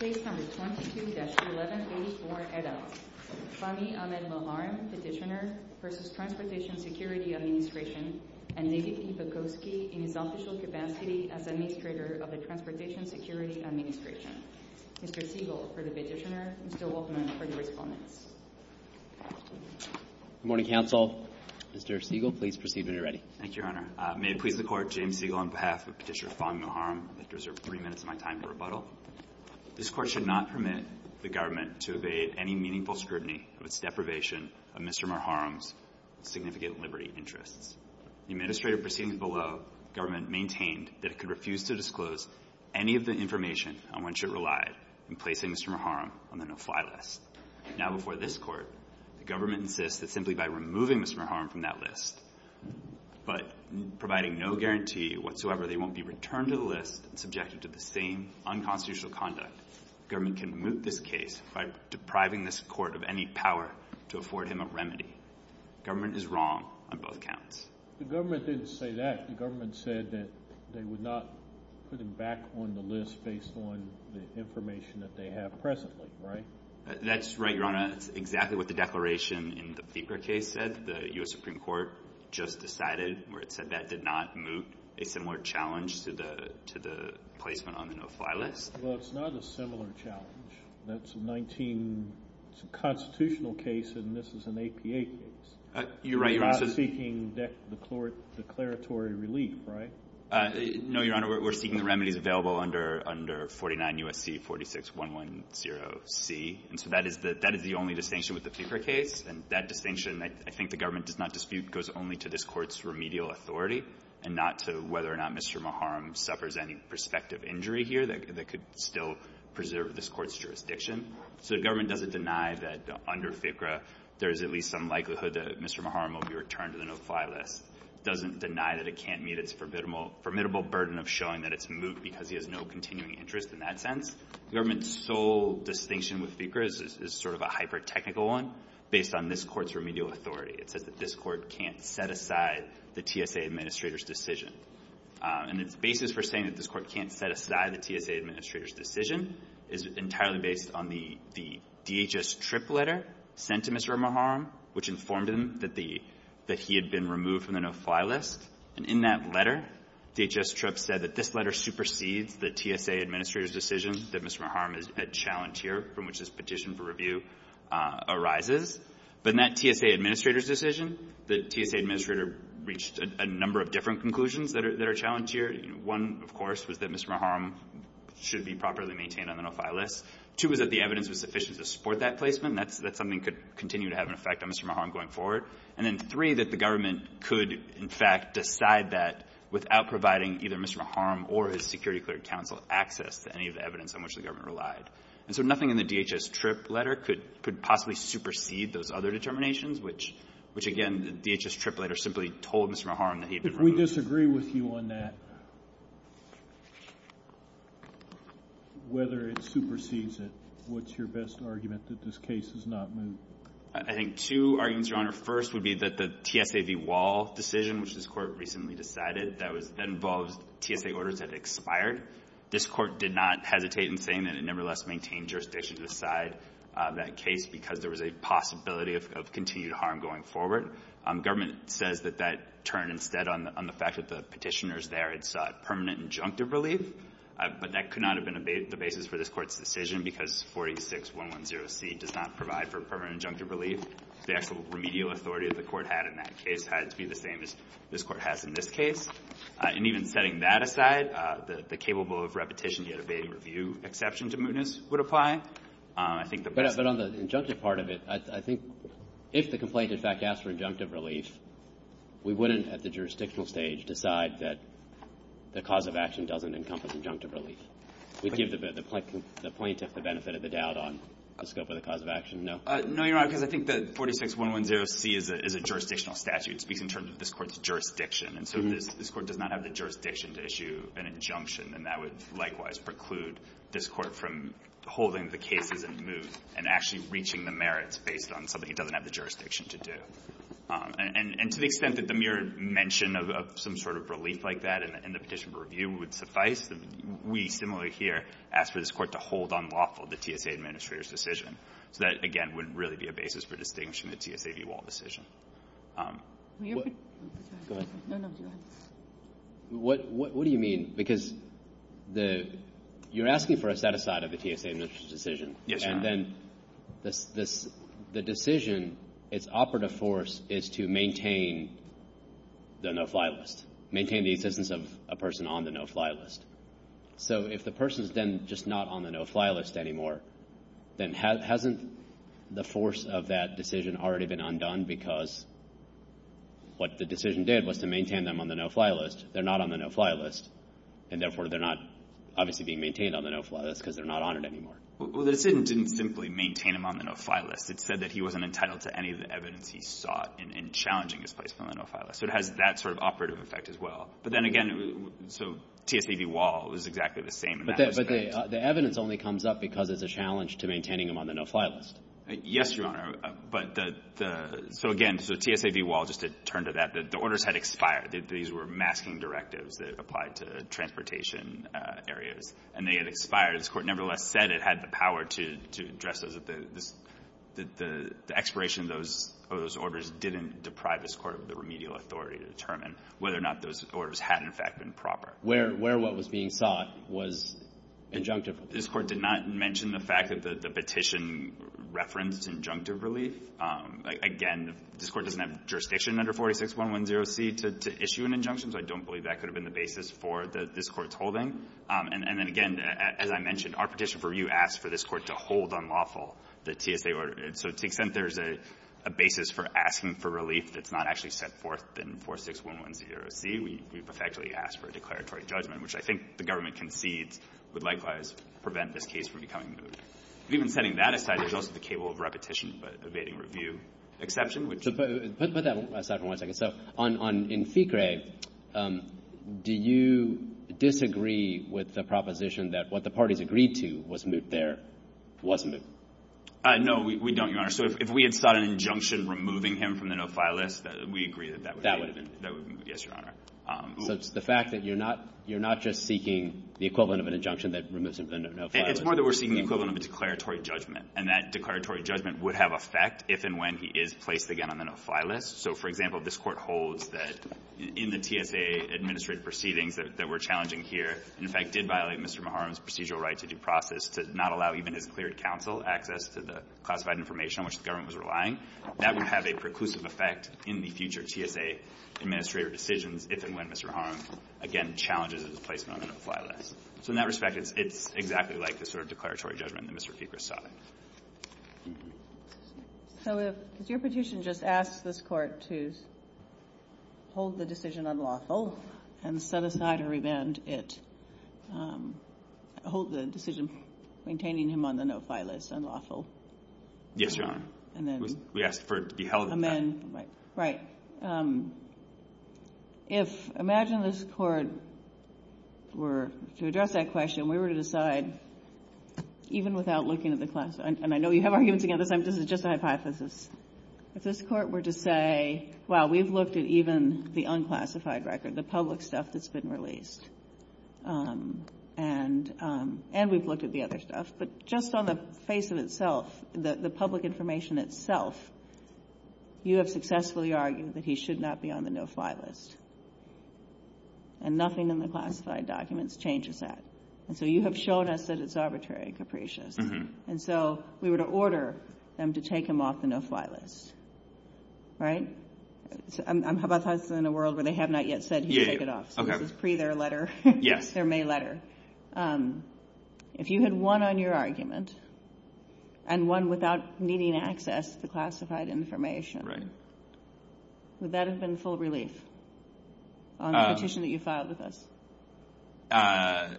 22-11 Phase 4 Head-Out Fahmi Ahmed Moharam, Petitioner, v. Transportation Security Administration and Negi Sivakovsky, Industrial Capacity Administrator of the Transportation Security Administration Mr. Siegel, Perturbationer. Mr. Wolfman, Perturbationer. Good morning, Council. Mr. Siegel, please proceed when you're ready. Thank you, Your Honor. May it please the Court, James Siegel on behalf of Petitioner Fahmi Moharam, I deserve three minutes of my time for rebuttal. This Court should not permit the government to evade any meaningful scrutiny of its deprivation of Mr. Moharam's significant liberty interests. In the administrative proceedings below, the government maintained that it could refuse to disclose any of the information on which it relied in placing Mr. Moharam on the no-fly list. Now before this Court, the government insists that simply by removing Mr. Moharam from that list, but providing no guarantee whatsoever, they won't be returned to the list and subjected to the same unconstitutional conduct. The government can remove this case by depriving this Court of any power to afford him a remedy. The government is wrong on both counts. The government didn't say that. The government said that they would not put him back on the list based on the information that they have presently, right? That's right, Your Honor. That's exactly what the declaration in the Pieper case said. The U.S. Supreme Court just decided, or it said that did not move a similar challenge to the placement on the no-fly list. Well, it's not a similar challenge. That's a 19 constitutional case, and this is an APA case. You're right, Your Honor. You're not seeking declaratory relief, right? No, Your Honor. We're seeking the remedies available under 49 U.S.C. 46110C. And so that is the only distinction with the Pieper case, and that distinction, I think the government does not dispute, goes only to this Court's remedial authority and not to whether or not Mr. Muharrem suffers any prospective injury here that could still preserve this Court's jurisdiction. So the government doesn't deny that under Pieper there is at least some likelihood that Mr. Muharrem will be returned to the no-fly list. It doesn't deny that it can't meet its formidable burden of showing that it's moved because he has no continuing interest in that sense. The government's sole distinction with Pieper is sort of a hyper-technical one based on this Court's remedial authority. It's that this Court can't set aside the TSA administrator's decision. And the basis for saying that this Court can't set aside the TSA administrator's decision is entirely based on the DHS TRIP letter sent to Mr. Muharrem, which informed him that he had been removed from the no-fly list. And in that letter, DHS TRIP said that this letter supersedes the TSA administrator's decision that Mr. Muharrem is a challenge here from which this petition for review arises. But in that TSA administrator's decision, the TSA administrator reached a number of different conclusions that are a challenge here. One, of course, was that Mr. Muharrem should be properly maintained on the no-fly list. Two, was that the evidence was sufficient to support that placement. That's something that could continue to have an effect on Mr. Muharrem going forward. And then three, that the government could, in fact, decide that without providing either Mr. Muharrem or his security clerk counsel access to any of the evidence on which the government relies. And so nothing in the DHS TRIP letter could possibly supersede those other determinations, which, again, the DHS TRIP letter simply told Mr. Muharrem that he had been removed. If we disagree with you on that, whether it supersedes it, what's your best argument that this case is not moved? I think two arguments, Your Honor. First would be that the TSA v. Wall decision, which this Court recently decided, that involved TSA orders that expired. This Court did not hesitate in saying that it nevertheless maintained jurisdiction beside that case because there was a possibility of continued harm going forward. Government says that that turned instead on the fact that the petitioners there had sought permanent injunctive relief. But that could not have been the basis for this Court's decision because 46110C does not provide for permanent injunctive relief. The actual remedial authority that the Court had in that case had to be the same as this Court has in this case. And even setting that aside, the capable of repetition yet obeying review exception to mootness would apply. But on the injunctive part of it, I think if the complaint, in fact, asked for injunctive relief, we wouldn't, at the jurisdictional stage, decide that the cause of action doesn't encompass injunctive relief. We'd give the plaintiff the benefit of the doubt on the scope of the cause of action, no? No, Your Honor, because I think that 46110C is a jurisdictional statute, speaking in terms of this Court's jurisdiction. And so if this Court does not have the jurisdiction to issue an injunction, then that would likewise preclude this Court from holding the cases in moot and actually reaching the merits based on something it doesn't have the jurisdiction to do. And to the extent that the mere mention of some sort of relief like that in the petition for review would suffice, we, similarly here, ask for this Court to hold unlawful the TSA administrator's decision. That, again, would really be a basis for distinguishing the TSA view all decision. Go ahead. What do you mean? Because you're asking for a set-aside of the TSA administrator's decision. Yes, Your Honor. And then the decision, its operative force is to maintain the no-fly list, maintain the existence of a person on the no-fly list. So if the person is then just not on the no-fly list anymore, then hasn't the force of that decision already been undone because what the decision did was to maintain them on the no-fly list. They're not on the no-fly list, and therefore they're not obviously being maintained on the no-fly list because they're not on it anymore. Well, it didn't simply maintain them on the no-fly list. It said that he wasn't entitled to any of the evidence he sought in challenging his place on the no-fly list. So it has that sort of operative effect as well. But then again, so TSA v. Wall is exactly the same. But the evidence only comes up because of the challenge to maintaining them on the no-fly list. Yes, Your Honor. So again, so TSA v. Wall, just to turn to that, the orders had expired. These were masking directives that applied to transportation areas, and they had expired. This Court nevertheless said it had the power to address those. The expiration of those orders didn't deprive this Court of the remedial authority to determine whether or not those orders had, in fact, been proper. Where what was being sought was injunctive. This Court did not mention the fact that the petition referenced injunctive relief. Again, this Court doesn't have jurisdiction under 46110C to issue an injunction, so I don't believe that could have been the basis for this Court's holding. And then again, as I mentioned, our petition for review asked for this Court to hold unlawful the TSA order. So since there's a basis for asking for relief that's not actually set forth in 46110C, we've effectively asked for a declaratory judgment, which I think the government concedes would likewise prevent this case from becoming moot. Even putting that aside, there's also the cable of repetition evading review exception. So put that aside for one second. So in FICRE, do you disagree with the proposition that what the parties agreed to was moot there was moot? No, we don't, Your Honor. So if we had sought an injunction removing him from the no-file list, we agree that that would be moot. Yes, Your Honor. So it's the fact that you're not just seeking the equivalent of an injunction that removes him from the no-file list. It's more that we're seeking the equivalent of a declaratory judgment, and that declaratory judgment would have effect if and when he is placed again on the no-file list. So, for example, this Court holds that in the TSA administrative proceedings that were challenging here, and in fact did violate Mr. Maharam's procedural right to due process, to not allow even a declared counsel access to the classified information on which the government was relying, that would have a preclusive effect in the future TSA administrative decisions if and when Mr. Maharam, again, challenges his place on the no-file list. So in that respect, it's exactly like the sort of declaratory judgment that Mr. FICRE sought. So if your petition just asks this Court to hold the decision unlawful and set aside a revenge, it holds the decision maintaining him on the no-file list unlawful? Yes, Your Honor. And then? We ask for it to be held unlawful. Right. If, imagine this Court were to address that question, we were to decide, even without looking at the classified, and I know we have arguments against this, this is just a hypothesis. If this Court were to say, well, we've looked at even the unclassified record, the public stuff that's been released, and we've looked at the other stuff, but just on the face of itself, the public information itself, you have successfully argued that he should not be on the no-file list. And nothing in the classified documents changes that. And so you have shown us that it's arbitrary, Capricia. And so we were to order them to take him off the no-file list. Right? I'm hypothesizing in a world where they have not yet said he should take it off. Okay. It was pre-their letter. Yes. Their May letter. If you had won on your argument, and won without needing access to classified information, would that have been full relief on the petition that you filed with us?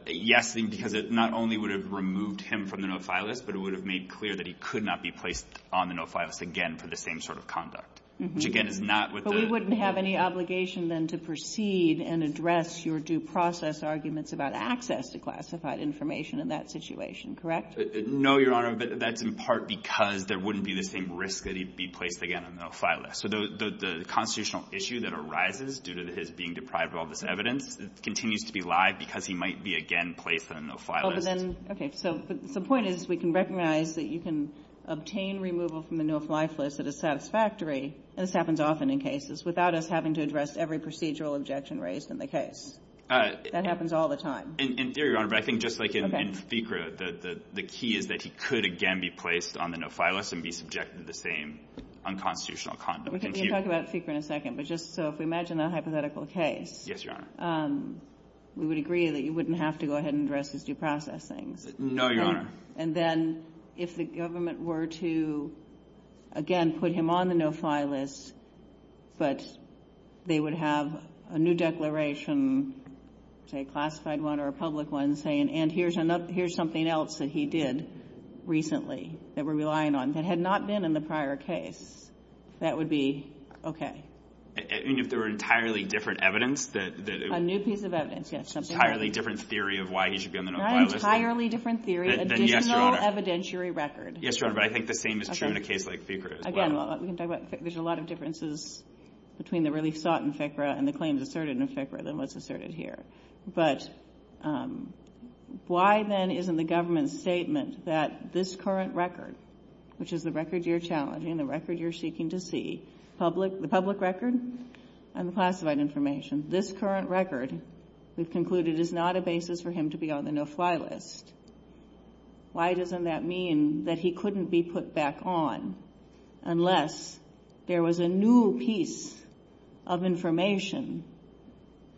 Yes, because it not only would have removed him from the no-file list, but it would have made clear that he could not be placed on the no-file list again for the same sort of conduct. But we wouldn't have any obligation then to proceed and address your due process arguments about access to classified information in that situation, correct? No, Your Honor. That's in part because there wouldn't be the same risk that he'd be placed again on the no-file list. So the constitutional issue that arises due to his being deprived of all this evidence continues to be lagged because he might be again placed on the no-file list. Okay. So the point is we can recognize that you can obtain removal from the no-file list that is satisfactory, and this happens often in cases, without us having to address every procedural objection raised in the case. That happens all the time. In theory, Your Honor, but I think just like in FICRA, the key is that he could again be placed on the no-file list and be subjected to the same unconstitutional conduct. We can talk about FICRA in a second, but just so if we imagine a hypothetical case, we would agree that he wouldn't have to go ahead and address his due processing. No, Your Honor. And then if the government were to again put him on the no-file list, but they would have a new declaration, say a classified one or a public one, saying, and here's something else that he did recently that we're relying on, that had not been in the prior case, that would be okay. And if there were entirely different evidence? A new piece of evidence, yes. Entirely different theory of why he should be on the no-file list? Not entirely different theory, additional evidentiary record. Yes, Your Honor, but I think the same is true in a case like FICRA as well. Again, there's a lot of differences between the relief sought in FICRA and the claims asserted in FICRA than what's asserted here. But why then isn't the government's statement that this current record, which is the record you're challenging and the record you're seeking to see, the public record and the classified information, this current record is concluded is not a basis for him to be on the no-file list. Why doesn't that mean that he couldn't be put back on unless there was a new piece of information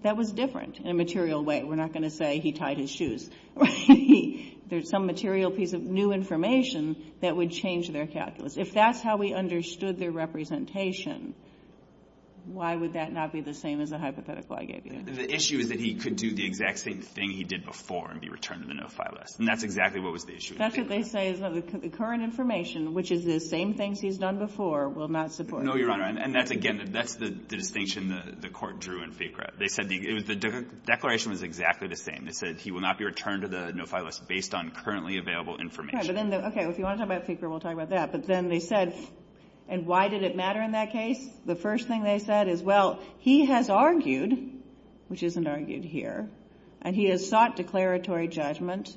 that was different in a material way? We're not going to say he tied his shoes. There's some material piece of new information that would change their calculus. If that's how we understood their representation, why would that not be the same as the hypothetical I gave you? The issue is that he could do the exact same thing he did before and be returned to the no-file list. And that's exactly what was the issue. That's what they say is that the current information, which is the same things he's done before, will not support him. No, Your Honor, and that's, again, that's the distinction the Court drew in FICRA. They said the declaration was exactly the same. They said he will not be returned to the no-file list based on currently available information. Okay, if you want to talk about FICRA, we'll talk about that. But then they said, and why did it matter in that case? The first thing they said is, well, he has argued, which isn't argued here, and he has sought declaratory judgment,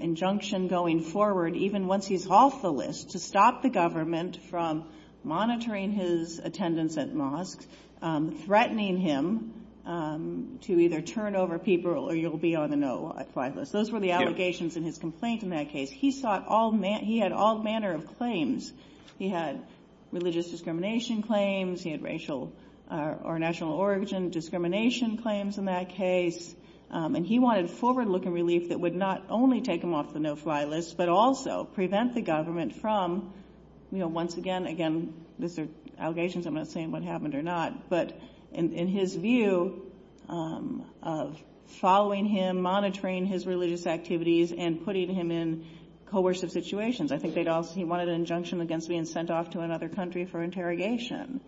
injunction going forward, even once he's off the list to stop the government from monitoring his attendance at mosques, threatening him to either turn over people or you'll be on a no-file list. Those were the allegations in his complaint in that case. He had all manner of claims. He had religious discrimination claims. He had racial or national origin discrimination claims in that case. And he wanted forward-looking relief that would not only take him off the no-file list but also prevent the government from, you know, once again, again, these are allegations, I'm not saying what happened or not, but in his view of following him, monitoring his religious activities, and putting him in coercive situations. I think he wanted an injunction against being sent off to another country for interrogation.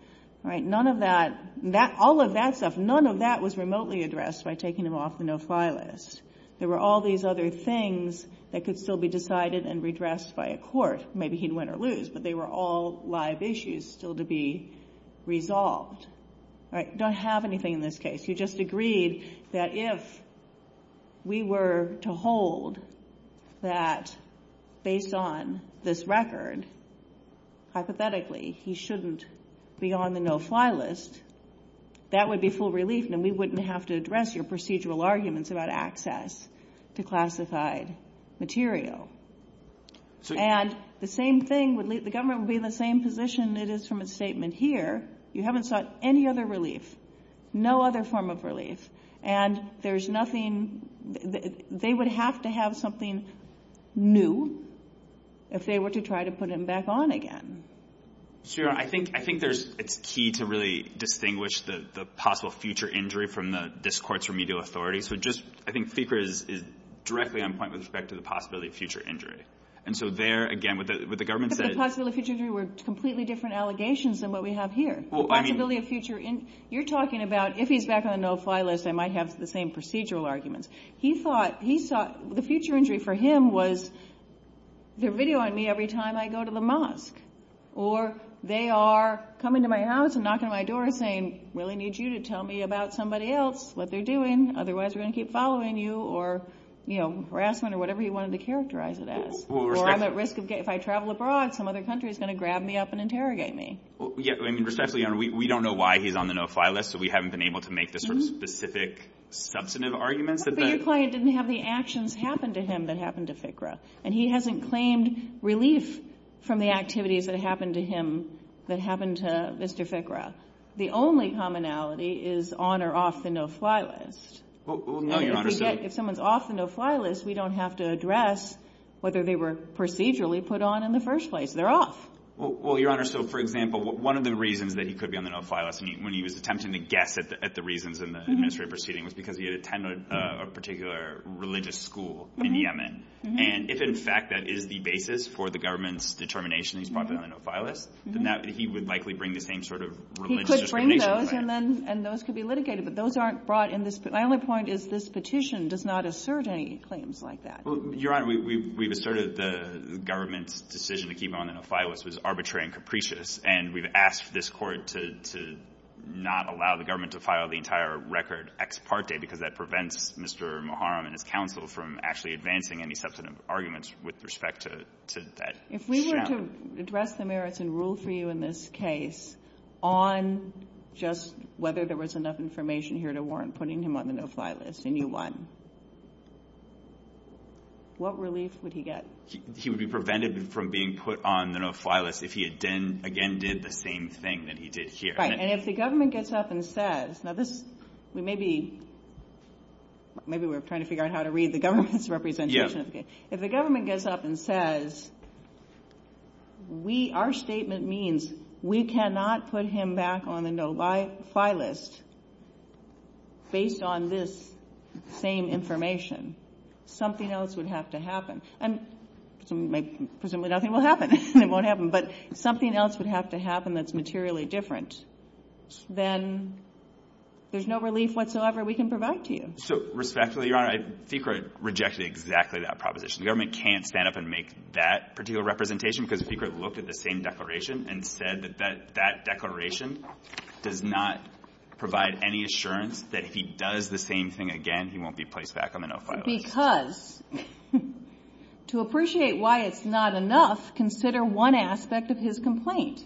None of that, all of that stuff, none of that was remotely addressed by taking him off the no-file list. There were all these other things that could still be decided and redressed by a court. Maybe he'd win or lose, but they were all live issues still to be resolved. You don't have anything in this case. You just agreed that if we were to hold that based on this record, hypothetically he shouldn't be on the no-file list, that would be full relief and we wouldn't have to address your procedural arguments about access to classified material. And the same thing, the government would be in the same position it is from a statement here. You haven't sought any other relief, no other form of relief, and there's nothing, they would have to have something new if they were to try to put him back on again. Sure, I think there's a key to really distinguish the possible future injury from this court's remedial authority. I think FECR is directly on point with respect to the possibility of future injury. And so there, again, what the government says- But the possibility of future injury were completely different allegations than what we have here. You're talking about if he's back on the no-file list, they might have the same procedural arguments. He thought the future injury for him was they're videoing me every time I go to the mosque or they are coming to my house and knocking on my door and saying, I really need you to tell me about somebody else, what they're doing, otherwise we're going to keep following you, or harassment, or whatever he wanted to characterize it as. Or I'm at risk, if I travel abroad, some other country is going to grab me up and interrogate me. Yeah, I mean, respectfully, we don't know why he's on the no-file list, so we haven't been able to make the specific substantive arguments. But your client didn't have the actions happen to him that happened to FICRA. And he hasn't claimed relief from the activities that happened to him that happened to Mr. FICRA. The only commonality is on or off the no-file list. If someone's off the no-file list, we don't have to address whether they were procedurally put on in the first place. They're off. Well, Your Honor, so for example, one of the reasons that he could be on the no-file list, when he was attempting to guess at the reasons in the administrative proceedings, was because he attended a particular religious school in Yemen. And if, in fact, that is the basis for the government's determination that he's probably on the no-file list, then he would likely bring the same sort of religious belief. He could bring those, and those could be litigated. But those aren't brought in this petition. My only point is this petition does not assert any claims like that. Well, Your Honor, we've asserted the government's decision to keep him on the no-file list was arbitrary and capricious. And we've asked this Court to not allow the government to file the entire record ex parte, because that prevents Mr. Moharam and his counsel from actually advancing any substantive arguments with respect to that. If we were to address the merits and rule for you in this case on just whether there was enough information here to warrant putting him on the no-file list, and you won, what relief would he get? He would be prevented from being put on the no-file list if he, again, did the same thing that he did here. Right. And if the government gets up and says, now this may be, maybe we're trying to figure out how to read the government's representation. If the government gets up and says, we, our statement means we cannot put him back on the no-file list based on this same information, something else would have to happen. Presumably nothing will happen. It won't happen. But something else would have to happen that's materially different. Then there's no relief whatsoever we can provide to you. So, respectfully, Your Honor, I think I rejected exactly that proposition. The government can't stand up and make that particular representation, because the speaker looked at the same declaration and said that that declaration does not provide any assurance that if he does the same thing again, he won't be placed back on the no-file list. Because to appreciate why it's not enough, consider one aspect of his complaint.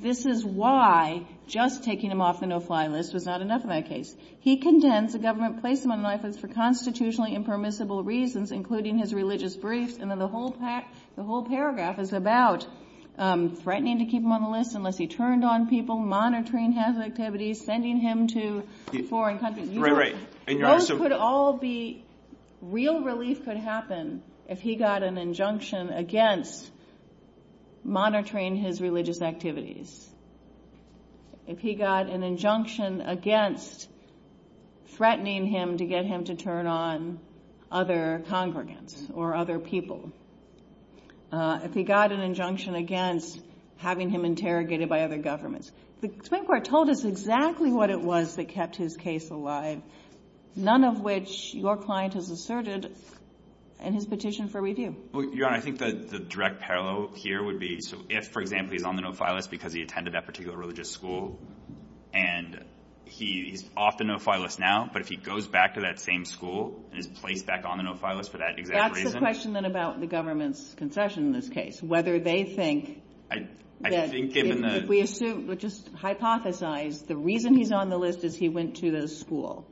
This is why just taking him off the no-file list was not enough in that case. He contends the government placed him on the list for constitutionally impermissible reasons, including his religious briefs, and then the whole paragraph is about threatening to keep him on the list unless he turned on people, monitoring his activities, sending him to foreign countries. Those could all be, real relief could happen if he got an injunction against monitoring his religious activities. If he got an injunction against threatening him to get him to turn on other congregants or other people. If he got an injunction against having him interrogated by other governments. The Supreme Court told us exactly what it was that kept his case alive, none of which your client has asserted in his petition for review. Your Honor, I think the direct parallel here would be if, for example, he's on the no-file list because he attended that particular religious school, and he's off the no-file list now, but if he goes back to that same school and is placed back on the no-file list for that exact reason. That's the question then about the government's concession in this case. Whether they think, yes, if we just hypothesize the reason he's on the list is he went to the school,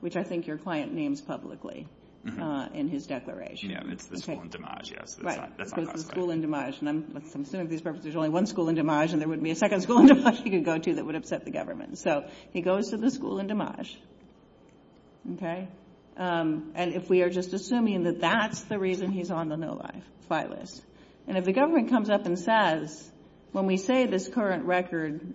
which I think your client names publicly in his declaration. It's the school in Dimaj, yes. Right, so it's the school in Dimaj. I'm assuming for these purposes there's only one school in Dimaj, and there wouldn't be a second school in Dimaj he could go to that would upset the government. So he goes to the school in Dimaj, okay? And if we are just assuming that that's the reason he's on the no-file list. And if the government comes up and says, when we say this current record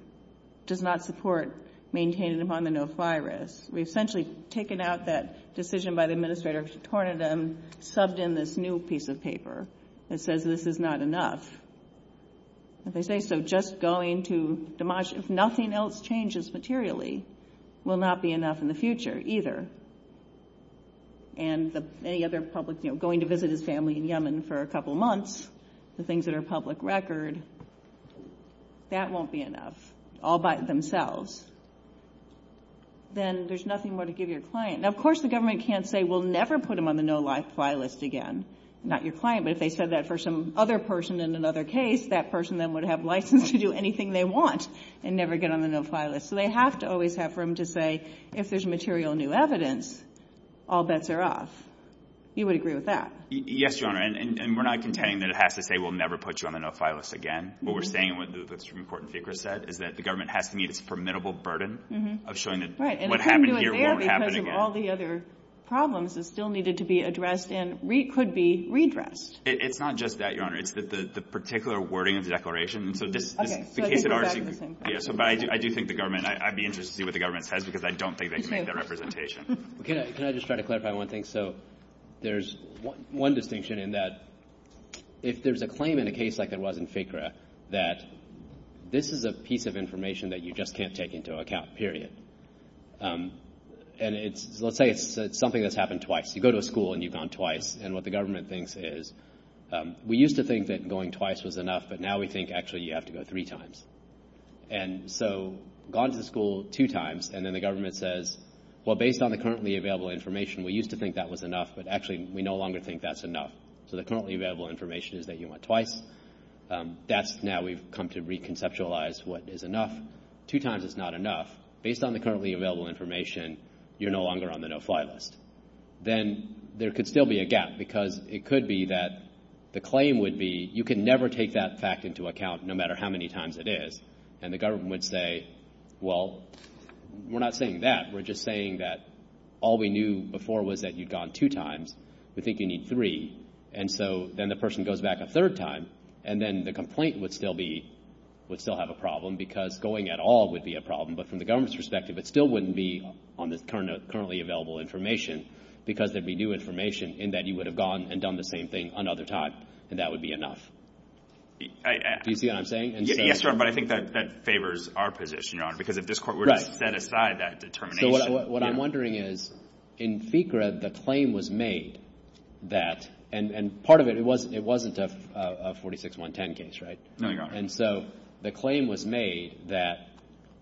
does not support maintaining him on the no-file list, we've essentially taken out that decision by the administrator, torn it in, subbed in this new piece of paper that says this is not enough. If they say, so just going to Dimaj, if nothing else changes materially, will not be enough in the future either. And any other public, you know, going to visit his family in Yemen for a couple months, the things that are public record, that won't be enough, all by themselves. Then there's nothing more to give your client. Now, of course the government can't say we'll never put him on the no-life file list again. Not your client, but if they said that for some other person in another case, that person then would have license to do anything they want and never get on the no-file list. So they have to always have room to say, if there's material new evidence, all bets are off. You would agree with that? Yes, Your Honor, and we're not contending that it has to say we'll never put you on the no-file list again. What we're saying, what the Supreme Court in FICRA said, is that the government has to meet its formidable burden of showing that what happened here won't happen again. Right, and couldn't do it there because of all the other problems that still needed to be addressed and could be redressed. It's not just that, Your Honor. It's the particular wording of the declaration. Okay. But I do think the government, I'd be interested to see what the government says because I don't think they can make that representation. Can I just try to clarify one thing? So there's one distinction in that if there's a claim in a case like there was in FICRA, that this is a piece of information that you just can't take into account, period. And let's say it's something that's happened twice. You go to a school and you've gone twice, and what the government thinks is, we used to think that going twice was enough, but now we think actually you have to go three times. And so gone to the school two times, and then the government says, well, based on the currently available information, we used to think that was enough, but actually we no longer think that's enough. So the currently available information is that you went twice. That's now we've come to reconceptualize what is enough. Two times is not enough. Based on the currently available information, you're no longer on the no-fly list. Then there could still be a gap because it could be that the claim would be, you can never take that fact into account no matter how many times it is. And the government would say, well, we're not saying that. We're just saying that all we knew before was that you've gone two times. We think you need three. And so then the person goes back a third time, and then the complaint would still have a problem because going at all would be a problem. But from the government's perspective, it still wouldn't be on the currently available information because there'd be new information in that you would have gone and done the same thing another time, and that would be enough. Do you see what I'm saying? Yes, sir, but I think that favors our position, Your Honor, because if this court were to set aside that determination. So what I'm wondering is, in FCRA, the claim was made that, and part of it, it wasn't a 46-110 case, right? No, Your Honor. And so the claim was made that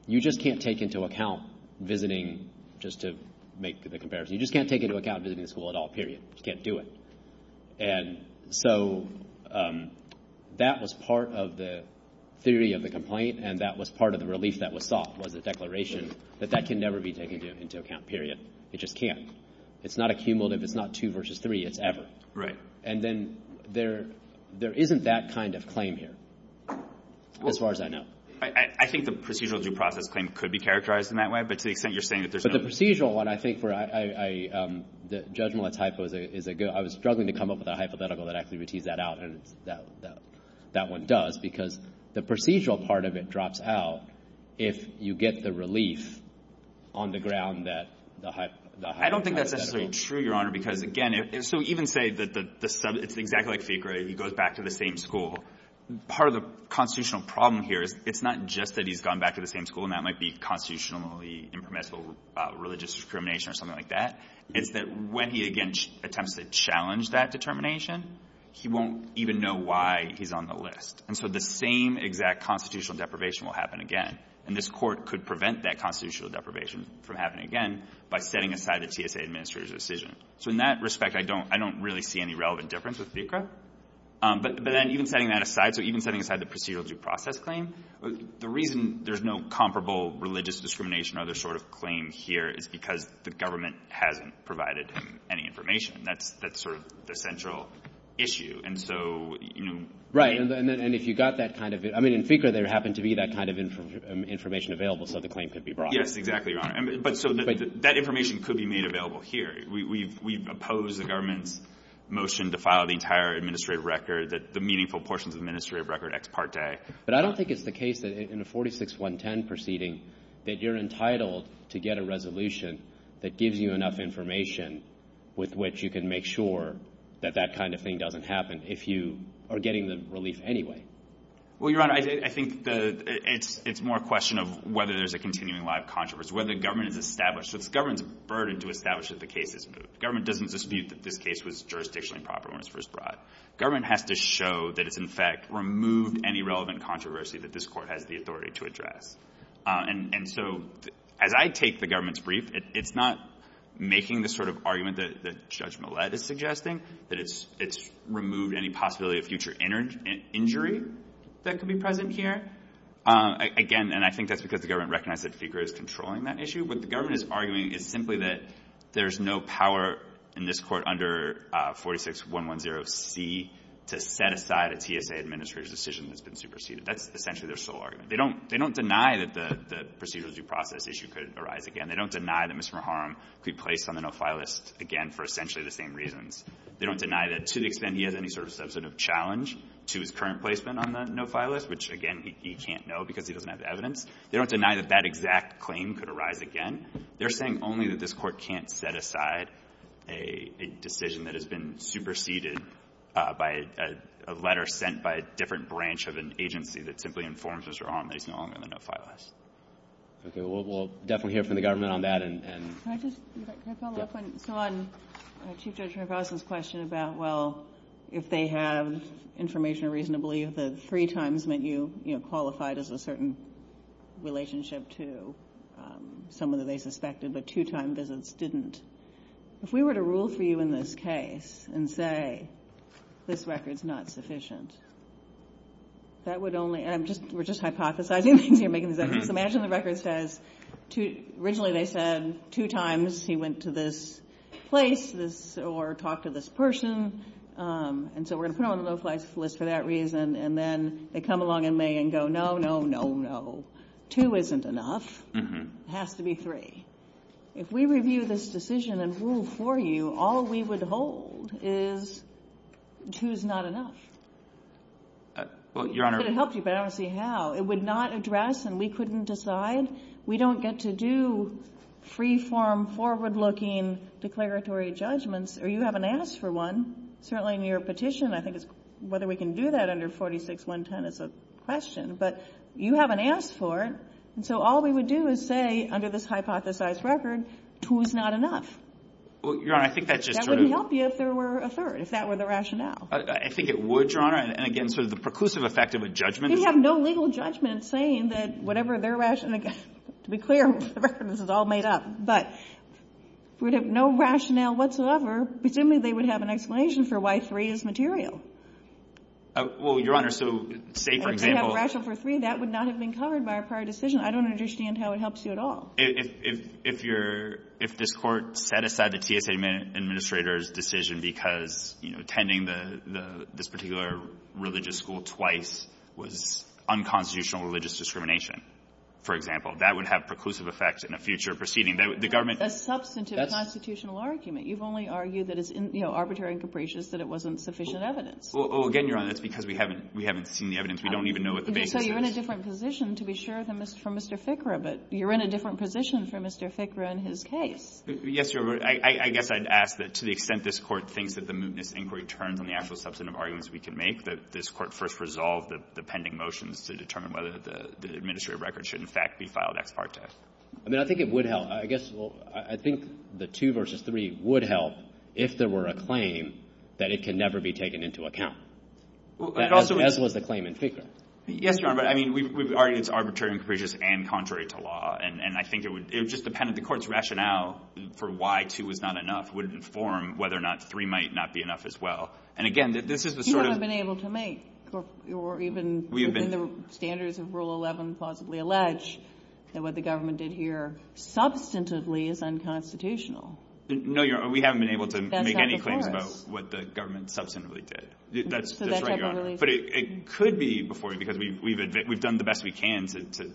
you just can't take into account visiting, just to make the comparison, you just can't take into account visiting the school at all, period. You can't do it. And so that was part of the theory of the complaint, and that was part of the relief that was sought was the declaration, but that can never be taken into account, period. It just can't. It's not a cumulative. It's not two versus three. It's ever. And then there isn't that kind of claim here, as far as I know. I think the procedural due process claim could be characterized in that way, but to the extent you're saying that there's no – But the procedural one, I think, the judgmental type is a good – I was struggling to come up with a hypothetical that actually would tease that out, and that one does, because the procedural part of it drops out if you get the relief on the ground that – I don't think that's necessarily true, Your Honor, because, again, so even say that the subject – it's exactly like FICA, right? He goes back to the same school. Part of the constitutional problem here is it's not just that he's gone back to the same school, and that might be constitutionally impermissible religious discrimination or something like that. It's that when he, again, attempts to challenge that determination, he won't even know why he's on the list. And so the same exact constitutional deprivation will happen again, and this court could prevent that constitutional deprivation from happening again by setting aside the TSA administrator's decision. So in that respect, I don't really see any relevant difference with FICA. But even setting that aside, so even setting aside the procedural due process claim, the reason there's no comparable religious discrimination or other sort of claim here is because the government hasn't provided any information. That's sort of the central issue. And so, you know – Right, and if you got that kind of – I mean, in FICA there happened to be that kind of information available so the claim could be brought. Yes, exactly, Your Honor. But so that information could be made available here. We've opposed the government's motion to file the entire administrative record, the meaningful portions of the administrative record ex parte. But I don't think it's the case that in a 46-110 proceeding that you're entitled to get a resolution that gives you enough information with which you can make sure that that kind of thing doesn't happen if you are getting the relief anyway. Well, Your Honor, I think it's more a question of whether there's a continuing live controversy, whether the government is established. The government is burdened to establish that the case is moved. The government doesn't dispute that this case was jurisdictionally proper when it was first brought. The government has to show that it, in fact, removed any relevant controversy that this court has the authority to address. And so as I take the government's brief, it's not making the sort of argument that Judge Millett is suggesting, that it's removed any possibility of future injury that could be present here. Again, and I think that's because the government recognizes that FICA is controlling that issue. What the government is arguing is simply that there's no power in this court under 46-110C to set aside a TSA administrative decision that's been superseded. That's essentially their sole argument. They don't deny that the procedural due process issue could arise again. They don't deny that Mr. Moharam could be placed on the no-file list again for essentially the same reasons. They don't deny that to the extent he has any sort of substantive challenge to his current placement on the no-file list, which, again, he can't know because he doesn't have the evidence. They don't deny that that exact claim could arise again. They're saying only that this court can't set aside a decision that has been superseded by a letter sent by a different branch of an agency that simply informs Mr. Moharam that he's no longer on the no-file list. Okay, well, we'll definitely hear from the government on that. Can I just follow up on Chief Judge Hrabowski's question about, well, if they have information reasonably, if the three times meant you qualified as a certain relationship to someone that they suspected, but two-time visits didn't. If we were to rule for you in this case and say this record's not sufficient, that would only – and we're just hypothesizing. Imagine the record says – originally they said two times he went to this place or talked to this person, and so we're going to put him on the no-file list for that reason, and then they come along in May and go, no, no, no, no. Two isn't enough. It has to be three. If we review this decision and rule for you, all we would hold is two's not enough. Well, Your Honor – It would have helped you, but I don't see how. It would not address, and we couldn't decide. We don't get to do free-form, forward-looking declaratory judgments, or you haven't asked for one. Certainly in your petition, I think it's – whether we can do that under 46.110 is a question, but you haven't asked for it. And so all we would do is say, under this hypothesized record, two's not enough. Well, Your Honor, I think that's just true. That would help you if there were a third, if that were the rationale. I think it would, Your Honor. And again, so the preclusive effect of a judgment – You have no legal judgment saying that whatever their rationale – to be clear, this is all made up, but if we have no rationale whatsoever, presumably they would have an explanation for why three is material. Well, Your Honor, so say, for example – That would not have been covered by a prior decision. I don't understand how it helps you at all. If this Court set aside the TSA administrator's decision because, you know, tending this particular religious school twice was unconstitutional religious discrimination, for example, that would have preclusive effects in a future proceeding. That's a substantive constitutional argument. You've only argued that it's arbitrary and capricious, that it wasn't sufficient evidence. Well, again, Your Honor, that's because we haven't seen the evidence. We don't even know what the basis is. So you're in a different position, to be sure, from Mr. Fickra, but you're in a different position from Mr. Fickra in his case. Yes, Your Honor. I guess I'd ask that to the extent this Court thinks that the mootness inquiry turns on the actual substantive arguments we can make, that this Court first resolve the pending motions to determine whether the administrative record should, in fact, be filed after our test. I mean, I think it would help. I guess, well, I think the two versus three would help if there were a claim that it can never be taken into account. As was the claim in Fickra. Yes, Your Honor. I mean, we've argued it's arbitrary and capricious and contrary to law, and I think it would just depend if the Court's rationale for why two was not enough would inform whether or not three might not be enough as well. And, again, this is the sort of— You haven't been able to make, or even the standards of Rule 11 possibly allege, that what the government did here substantively is unconstitutional. No, Your Honor. We haven't been able to make any claims about what the government substantively did. That's right, Your Honor. But it could be, because we've done the best we can to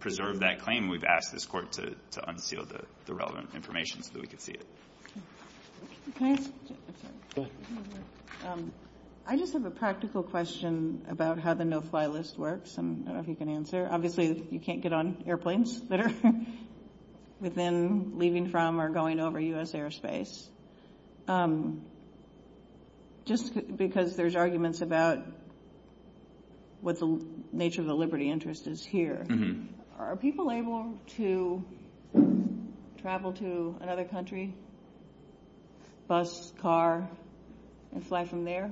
preserve that claim. We've asked this Court to unseal the relevant information so we can see it. Can I just have a practical question about how the no-fly list works, and I don't know if you can answer. Obviously, you can't get on airplanes that are within, leaving from, or going over U.S. airspace. Just because there's arguments about what the nature of the liberty interest is here, are people able to travel to another country, bus, car, and fly from there?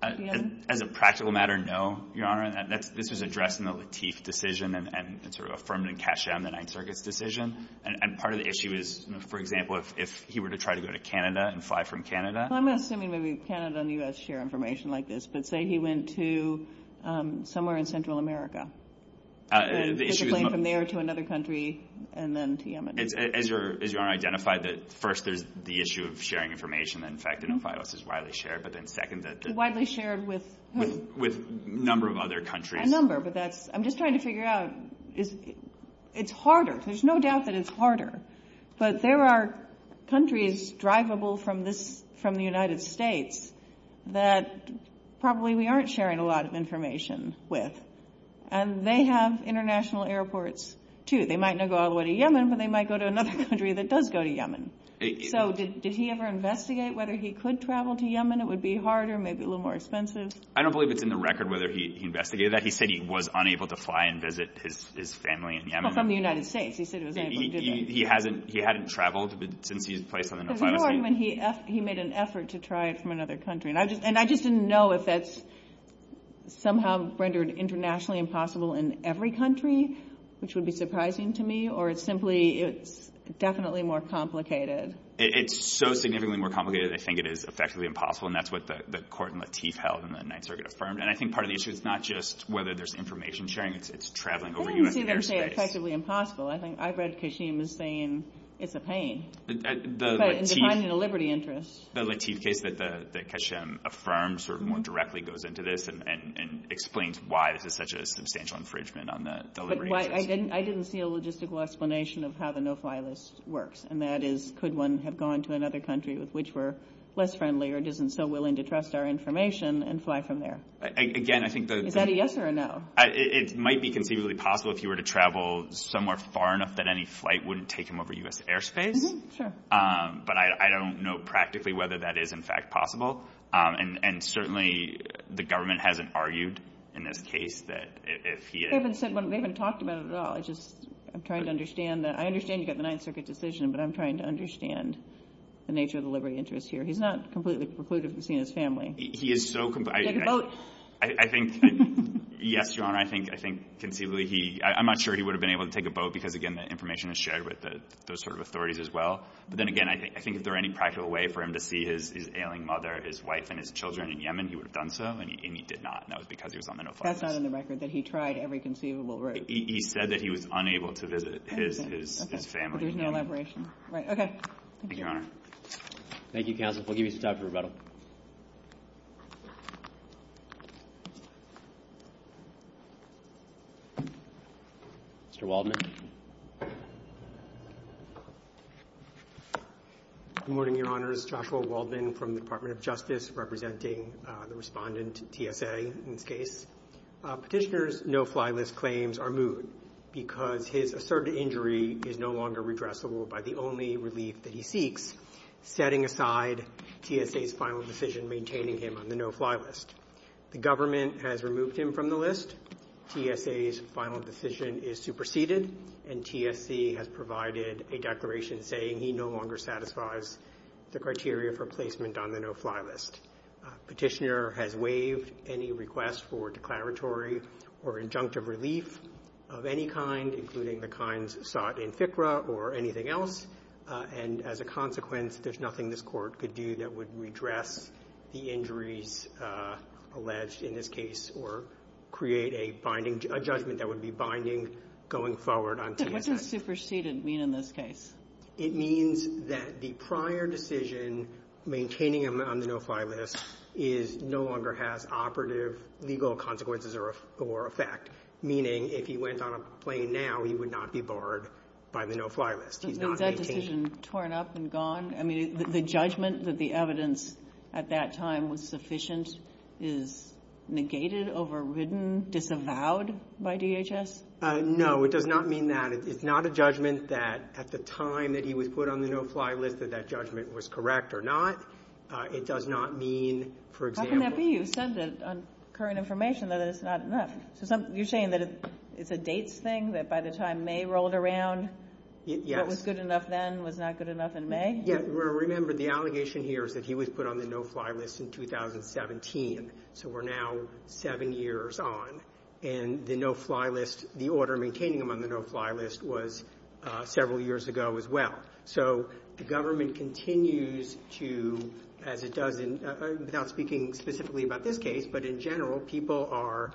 As a practical matter, no, Your Honor. This is addressing the Lateef decision and sort of affirming Cash M, the Ninth Circuit's decision. And part of the issue is, for example, if he were to try to go to Canada and fly from Canada. Well, I'm assuming maybe Canada and the U.S. share information like this, but say he went to somewhere in Central America. The issue is... He's going from there to another country, and then to Yemen. Is Your Honor identified that, first, there's the issue of sharing information, and, in fact, the no-fly list is widely shared, but then, second, that there's... Widely shared with who? With a number of other countries. A number, but I'm just trying to figure out, it's harder. There's no doubt that it's harder. But there are countries drivable from the United States that probably we aren't sharing a lot of information with, and they have international airports, too. They might not go all the way to Yemen, but they might go to another country that does go to Yemen. So did he ever investigate whether he could travel to Yemen? It would be harder, maybe a little more expensive. I don't believe it's in the record whether he investigated that. He said he was unable to fly and visit his family in Yemen. He was from the United States. He said he was unable to do that. He hadn't traveled since he had been placed on the no-fly list. But what about when he made an effort to try from another country? And I just didn't know if that's somehow rendered internationally impossible in every country, which would be surprising to me, or it's simply definitely more complicated. It's so significantly more complicated, I think it is effectively impossible, and that's what the court in Latif held in the Ninth Circuit affirmed. And I think part of the issue is not just whether there's information sharing, it's traveling over U.S. airspace. It doesn't seem to say it's effectively impossible. I think I've read Kashim as saying it's a pain in defining the liberty interest. The Latif case that Kashim affirmed sort of more directly goes into this and explains why there's such a substantial infringement on the liberty interest. But I didn't see a logistical explanation of how the no-fly list works, and that is could one have gone to another country with which we're less friendly or isn't so willing to trust our information and fly from there? Again, I think those— Is that a yes or a no? It might be conceivably possible if you were to travel somewhere far enough that any flight wouldn't take him over U.S. airspace. Sure. But I don't know practically whether that is, in fact, possible. And certainly the government hasn't argued in this case that if he is— We haven't talked about it at all. I'm trying to understand that. I understand you've got the Ninth Circuit decision, but I'm trying to understand the nature of the liberty interest here. He's not completely precluded from seeing his family. He is so— Take a boat. I think—Yes, Your Honor, I think conceivably he— I'm not sure he would have been able to take a boat because, again, that information was shared with those sort of authorities as well. But then again, I think if there were any practical way for him to see his ailing mother, his wife, and his children in Yemen, he would have done so, and he did not, and that was because he was on the no-fly list. That's not in the record that he tried every conceivable route. He said that he was unable to visit his family. Okay. There was no elaboration. Right. Okay. Thank you, Your Honor. Thank you, counsel. We'll give you some time for rebuttal. Mr. Waldman. Good morning, Your Honors. Joshua Waldman from the Department of Justice, representing the respondent, TFA, in this case. Petitioner's no-fly list claims are moved because his asserted injury is no longer redressable by the only relief that he seeks, setting aside TFA's final decision maintaining him on the no-fly list. The government has removed him from the list. TFA's final decision is superseded, and TFC has provided a declaration saying he no longer satisfies the criteria for placement on the no-fly list. Petitioner has waived any request for declaratory or injunctive relief of any kind, including the kinds sought in FCRA or anything else, and as a consequence, there's nothing this court could do that would redress the injuries alleged in this case or create a judgment that would be binding going forward on TFC. What does superseded mean in this case? It means that the prior decision maintaining him on the no-fly list no longer has operative legal consequences or effect, meaning if he went on a plane now, he would not be barred by the no-fly list. Is that decision torn up and gone? I mean, the judgment that the evidence at that time was sufficient is negated, overridden, disavowed by DHS? No, it does not mean that. It's not a judgment that at the time that he was put on the no-fly list that that judgment was correct or not. It does not mean, for example... How can that be? You said that on current information that it's not... You're saying that it's a dates thing, that by the time May rolled around, what was good enough then was not good enough in May? Yeah, well, remember, the allegation here is that he was put on the no-fly list in 2017, so we're now seven years on, and the no-fly list, the order maintaining him on the no-fly list, was several years ago as well. So the government continues to, as it does in... I'm not speaking specifically about this case, but in general, people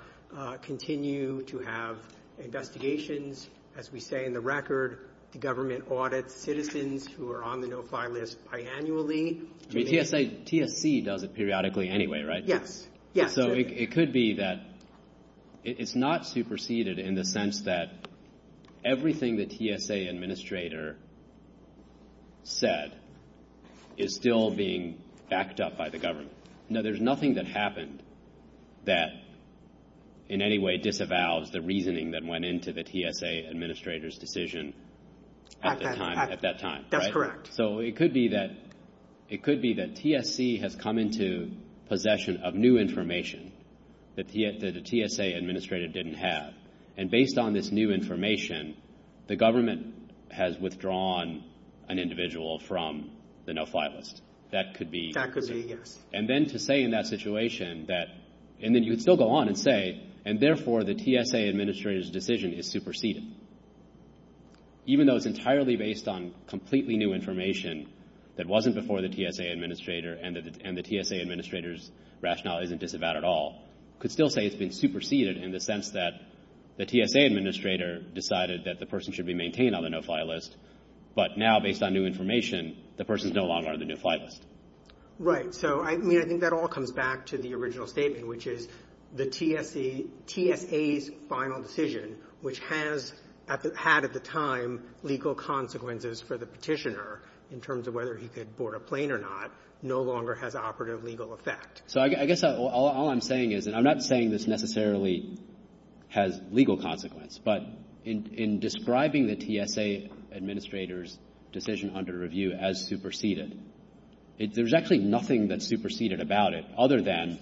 continue to have investigations, as we say in the record, the government audits citizens who are on the no-fly list biannually. TSA, TSC does it periodically anyway, right? Yeah, yeah. So it could be that it's not superseded in the sense that everything the TSA administrator said is still being backed up by the government. No, there's nothing that happened that in any way disavows the reasoning that went into the TSA administrator's decision at that time. That's correct. So it could be that TSC has come into possession of new information that the TSA administrator didn't have, and based on this new information, the government has withdrawn an individual from the no-fly list. That could be... Practically, yes. And then to say in that situation that... And then you would still go on and say, and therefore the TSA administrator's decision is superseded. Even though it's entirely based on completely new information that wasn't before the TSA administrator and the TSA administrator's rationale isn't disavowed at all, you could still say it's been superseded in the sense that the TSA administrator decided that the person should be maintained on the no-fly list, but now based on new information, the person's no longer on the no-fly list. Right. So I think that all comes back to the original statement, which is the TSA's final decision, which has had at the time legal consequences for the petitioner in terms of whether he could board a plane or not, no longer has operative legal effect. So I guess all I'm saying is, and I'm not saying this necessarily has legal consequence, but in describing the TSA administrator's decision under review as superseded, there's actually nothing that's superseded about it other than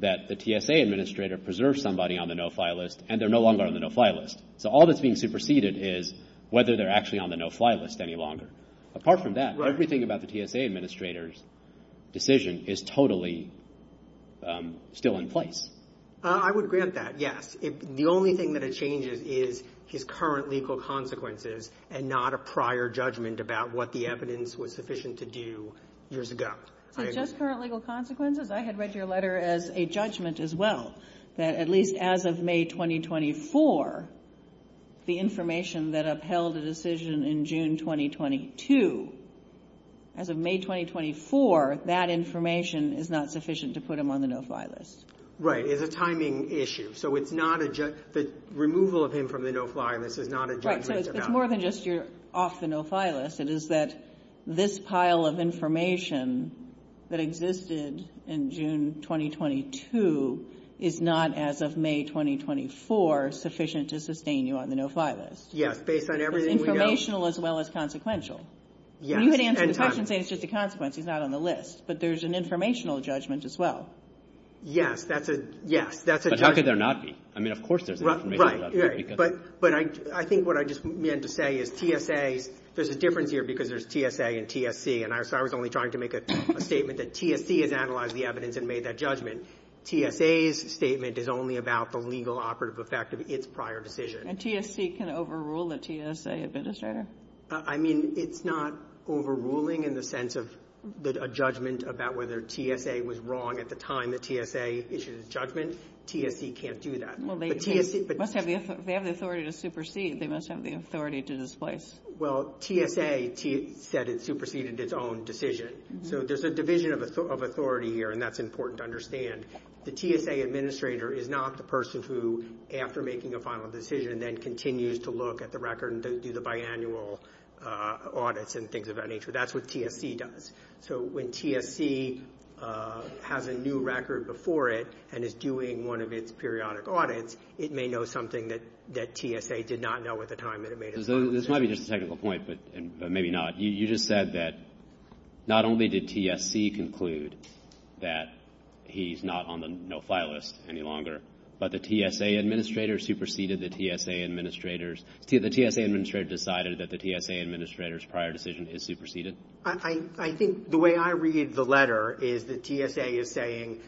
that the TSA administrator preserved somebody on the no-fly list and they're no longer on the no-fly list. So all that's being superseded is whether they're actually on the no-fly list any longer. Apart from that, everything about the TSA administrator's decision is totally still in place. I would agree with that, yes. The only thing that it changes is his current legal consequences and not a prior judgment about what the evidence was sufficient to do years ago. Just current legal consequences? I had read your letter as a judgment as well, that at least as of May 2024, the information that upheld the decision in June 2022, as of May 2024, that information is not sufficient to put him on the no-fly list. Right. It's a timing issue. So the removal of him from the no-fly list is not a judgment at all. So it's more than just you're off the no-fly list. It is that this pile of information that existed in June 2022 is not, as of May 2024, sufficient to sustain you on the no-fly list. Yes, based on everything we know. It's informational as well as consequential. You can answer the question saying it's just a consequence. He's not on the list. But there's an informational judgment as well. Yes, that's a judgment. But how could there not be? I mean, of course there's an informational judgment. But I think what I just meant to say is TSA, there's a difference here because there's TSA and TSC. And I was only trying to make a statement that TSC has analyzed the evidence and made that judgment. TSA's statement is only about the legal operative effect of its prior decision. And TSC can overrule a TSA administrator? I mean, it's not overruling in the sense of a judgment about whether TSA was wrong at the time that TSA issued its judgment. TSC can't do that. Well, they must have the authority to supersede. They must have the authority to displace. Well, TSA said it superseded its own decision. So there's a division of authority here, and that's important to understand. The TSA administrator is not the person who, after making a final decision, then continues to look at the record and does the biannual audits and things of that nature. That's what TSC does. So when TSC has a new record before it and is doing one of its periodic audits, it may know something that TSA did not know at the time that it made it. This might be just a technical point, but maybe not. You just said that not only did TSC conclude that he's not on the no-fly list any longer, but the TSA administrator superseded the TSA administrator's. The TSA administrator decided that the TSA administrator's prior decision is superseded? I think the way I read the letter is that TSA is saying,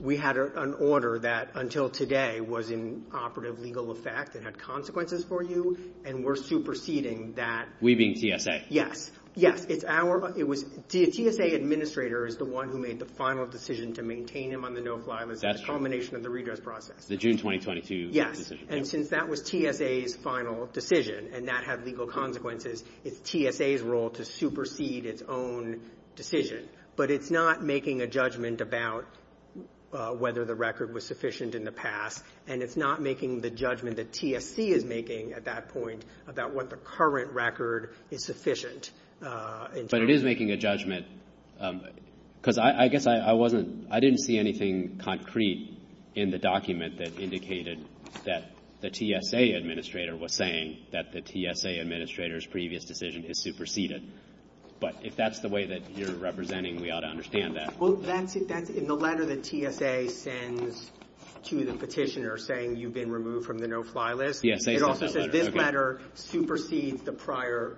we had an order that, until today, was in operative legal effect and had consequences for you, and we're superseding that. We being TSA? Yes. TSA administrator is the one who made the final decision to maintain him on the no-fly list at the culmination of the redress process. The June 2022 decision? Yes. And since that was TSA's final decision and that had legal consequences, it's TSA's role to supersede its own decision. But it's not making a judgment about whether the record was sufficient in the past, and it's not making the judgment that TSC is making at that point about what the current record is sufficient. But it is making a judgment, because I guess I didn't see anything concrete in the document that indicated that the TSA administrator was saying that the TSA administrator's previous decision is superseded. But if that's the way that you're representing, we ought to understand that. Well, in the letter that TSA sends to the petitioner saying you've been removed from the no-fly list, it also says this letter supersedes the prior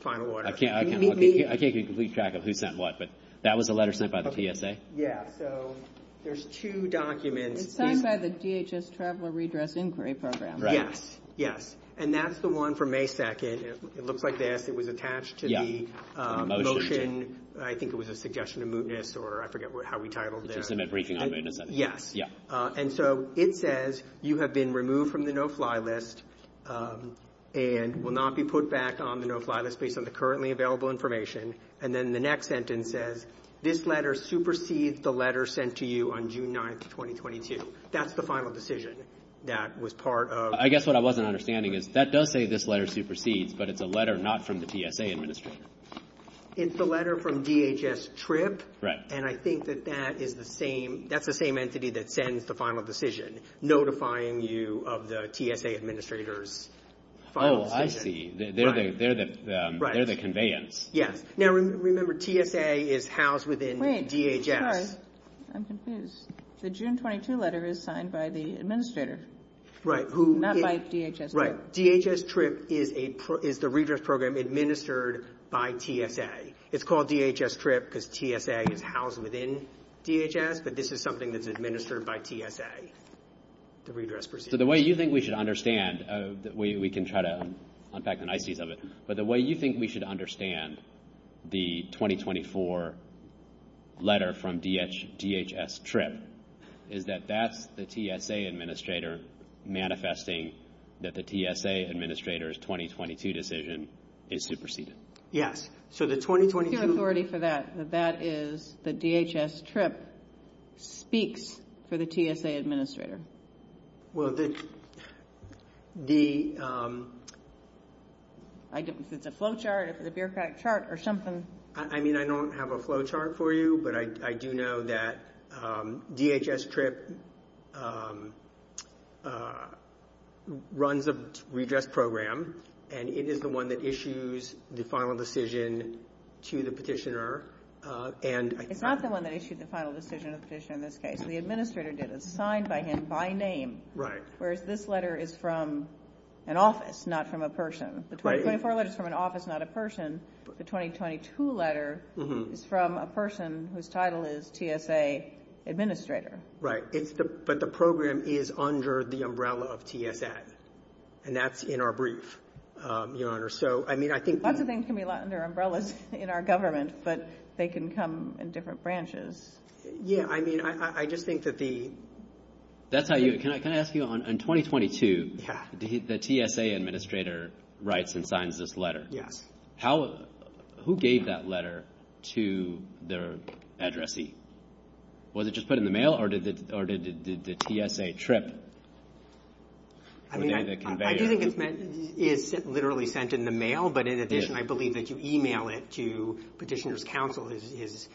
final order. I can't get a complete track of who sent what, but that was the letter sent by the TSA? Yes. So there's two documents. It's signed by the DHS Travel Redress Inquiry Program. Yes, yes. And that's the one from May 2nd. It looks like this. It was attached to the motion. I think it was a suggestion of mootness, or I forget how we titled it. It's in that reaching agreement. Yes. And so it says you have been removed from the no-fly list and will not be put back on the no-fly list based on the currently available information. And then the next sentence says this letter supersedes the letter sent to you on June 9th, 2022. That's the final decision that was part of... I guess what I wasn't understanding is that does say this letter supersedes, but it's a letter not from the TSA administrator. It's a letter from DHS TRIP, and I think that that's the same entity that sends the final decision, notifying you of the TSA administrator's final decision. Oh, I see. They're the conveyance. Yes. Now, remember, TSA is housed within DHS. Wait, sorry. I'm confused. The June 22 letter is signed by the administrator. Right. Not by DHS TRIP. Right. DHS TRIP is the redress program administered by TSA. It's called DHS TRIP because TSA is housed within DHS, but this is something that's administered by TSA, the redress procedure. So the way you think we should understand, we can try to unpack the niceties of it, but the way you think we should understand the 2024 letter from DHS TRIP is that that's the TSA administrator manifesting that the TSA administrator's 2022 decision is superseded. So the 2022... I have authority for that, that that is the DHS TRIP speaks for the TSA administrator. Well, the... Is it a flowchart? Is it a beer crack chart or something? I mean, I don't have a flowchart for you, but I do know that DHS TRIP runs the redress program, and it is the one that issues the final decision to the petitioner, and... It's not the one that issues the final decision to the petitioner in this case. The administrator did it. It's signed by him by name. Right. Whereas this letter is from an office, not from a person. Right. The 2024 letter is from an office, not a person. The 2022 letter is from a person whose title is TSA administrator. Right. But the program is under the umbrella of TSA, and that's in our brief, Your Honor. So, I mean, I think... Lots of things can be under umbrellas in our government, but they can come in different branches. Yeah, I mean, I just think that the... That's how you... Can I ask you, in 2022, the TSA administrator writes and signs this letter. Yes. How... Who gave that letter to their addressee? Was it just put in the mail, or did the TSA TRIP... I mean, I think it's literally sent in the mail, but in addition, I believe that you e-mail it to petitioner's counsel, his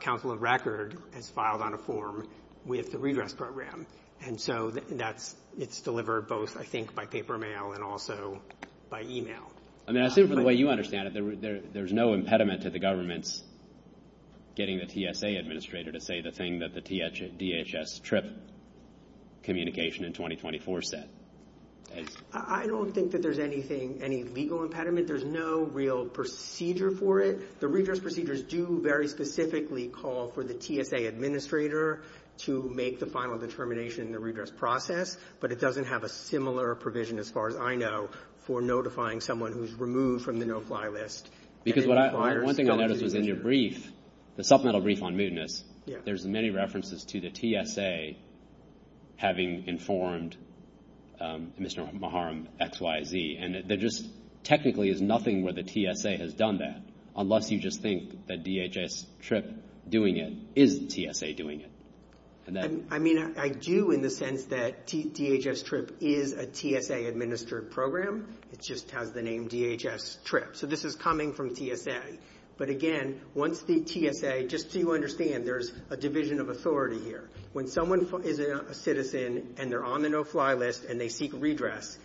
counsel of record. It's filed on a form with the redress program. And so that's... It's delivered both, I think, by paper mail and also by e-mail. I mean, I assume, from the way you understand it, there's no impediment to the government's getting the TSA administrator to say the thing that the DHS TRIP communication in 2024 said. I don't think that there's anything, any legal impediment. There's no real procedure for it. The redress procedures do very specifically call for the TSA administrator to make the final determination in the redress process, but it doesn't have a similar provision, as far as I know, for notifying someone who's removed from the no-fly list. Because what I... One thing I noticed was in your brief, the supplemental brief on mootness, there's many references to the TSA having informed Mr. Maharam XYZ. And there just technically is nothing where the TSA has done that, unless you just think that DHS TRIP doing it is TSA doing it. I mean, I do in the sense that DHS TRIP is a TSA-administered program. It just has the name DHS TRIP. So this is coming from TSA. But, again, once the TSA... Just so you understand, there's a division of authority here. When someone is a citizen and they're on the no-fly list and they seek redress,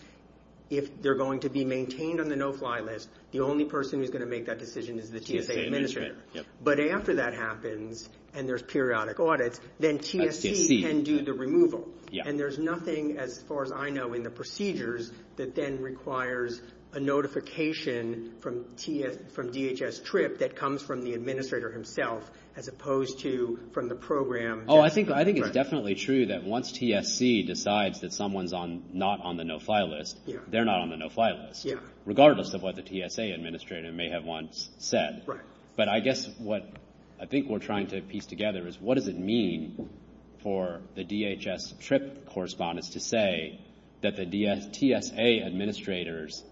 if they're going to be maintained on the no-fly list, the only person who's going to make that decision is the TSA administrator. But after that happens and there's periodic audit, then TSA can do the removal. And there's nothing, as far as I know, in the procedures that then requires a notification from DHS TRIP that comes from the administrator himself, as opposed to from the program. Oh, I think it's definitely true that once TSA decides that someone's not on the no-fly list, they're not on the no-fly list, regardless of what the TSA administrator may have once said. Right. But I guess what I think we're trying to piece together is what does it mean for the DHS TRIP correspondents to say that the TSA administrator's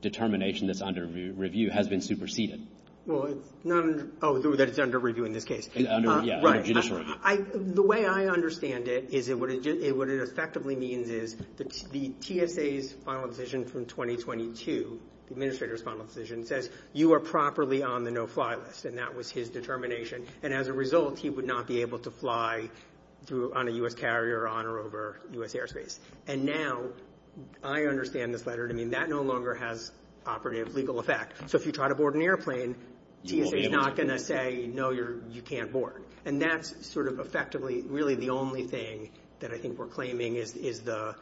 determination that's under review has been superseded? Oh, that it's under review in this case. Yeah, under judicial review. The way I understand it is what it effectively means is the TSA's final decision from 2022, the administrator's final decision, says you are properly on the no-fly list, and that was his determination. And as a result, he would not be able to fly on a U.S. carrier or on or over U.S. airspace. And now I understand the flutter. I mean, that no longer has operative legal effect. So if you try to board an airplane, TSA's not going to say, no, you can't board. And that's sort of effectively really the only thing that I think we're claiming is the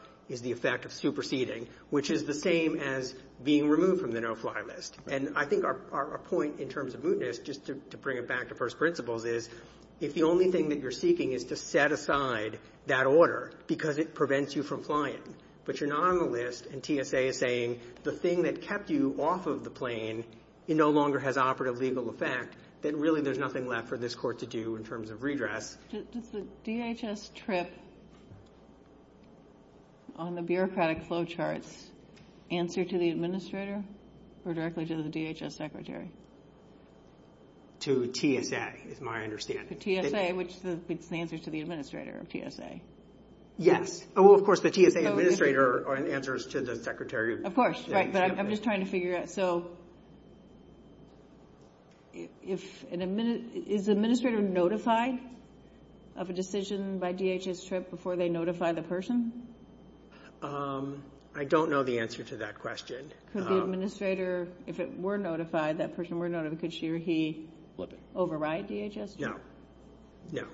effect of superseding, which is the same as being removed from the no-fly list. And I think our point in terms of this, just to bring it back to first principles, is if the only thing that you're seeking is to set aside that order because it prevents you from flying, but you're not on the list, and TSA is saying the thing that kept you off of the plane no longer has operative legal effect, then really there's nothing left for this court to do in terms of redress. Does the DHS trip on the bureaucratic flowcharts answer to the administrator or directly to the DHS secretary? To TSA, is my understanding. To TSA, which is the answer to the administrator of TSA. Yes. Well, of course, the TSA administrator answers to the secretary of TSA. Of course, right, but I'm just trying to figure it out. Okay, so is the administrator notified of a decision by DHS trip before they notify the person? I don't know the answer to that question. Could the administrator, if it were notified, that person were notified, could she or he override DHS trip? No, no.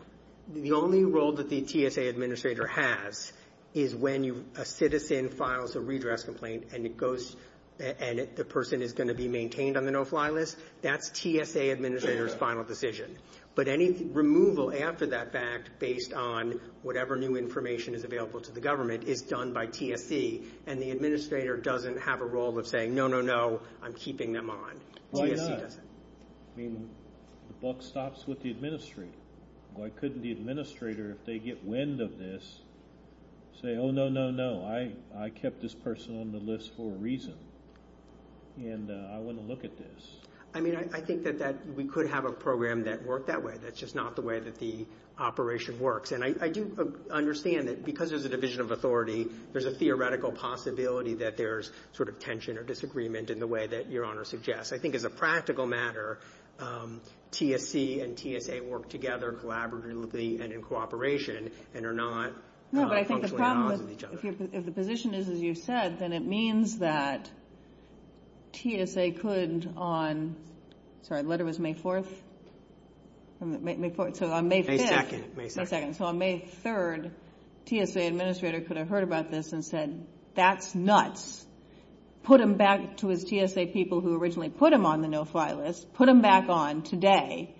The only role that the TSA administrator has is when a citizen files a redress complaint and the person is going to be maintained on the no-fly list, that's TSA administrator's final decision. But any removal after that fact, based on whatever new information is available to the government, is done by TSA, and the administrator doesn't have a role of saying, no, no, no, I'm keeping them on. Why not? I mean, the buck stops with the administrator. Why couldn't the administrator, if they get wind of this, say, oh, no, no, no, I kept this person on the list for a reason, and I want to look at this. I mean, I think that we could have a program that worked that way. That's just not the way that the operation works. And I do understand that because there's a division of authority, there's a theoretical possibility that there's sort of tension or disagreement in the way that Your Honor suggests. I think as a practical matter, TSC and TSA work together collaboratively and in cooperation No, but I think the problem is if the position is as you said, then it means that TSA could on May 2nd, so on May 3rd, TSA administrator could have heard about this and said, that's nuts. Put them back to the TSA people who originally put them on the no-fly list. Put them back on today,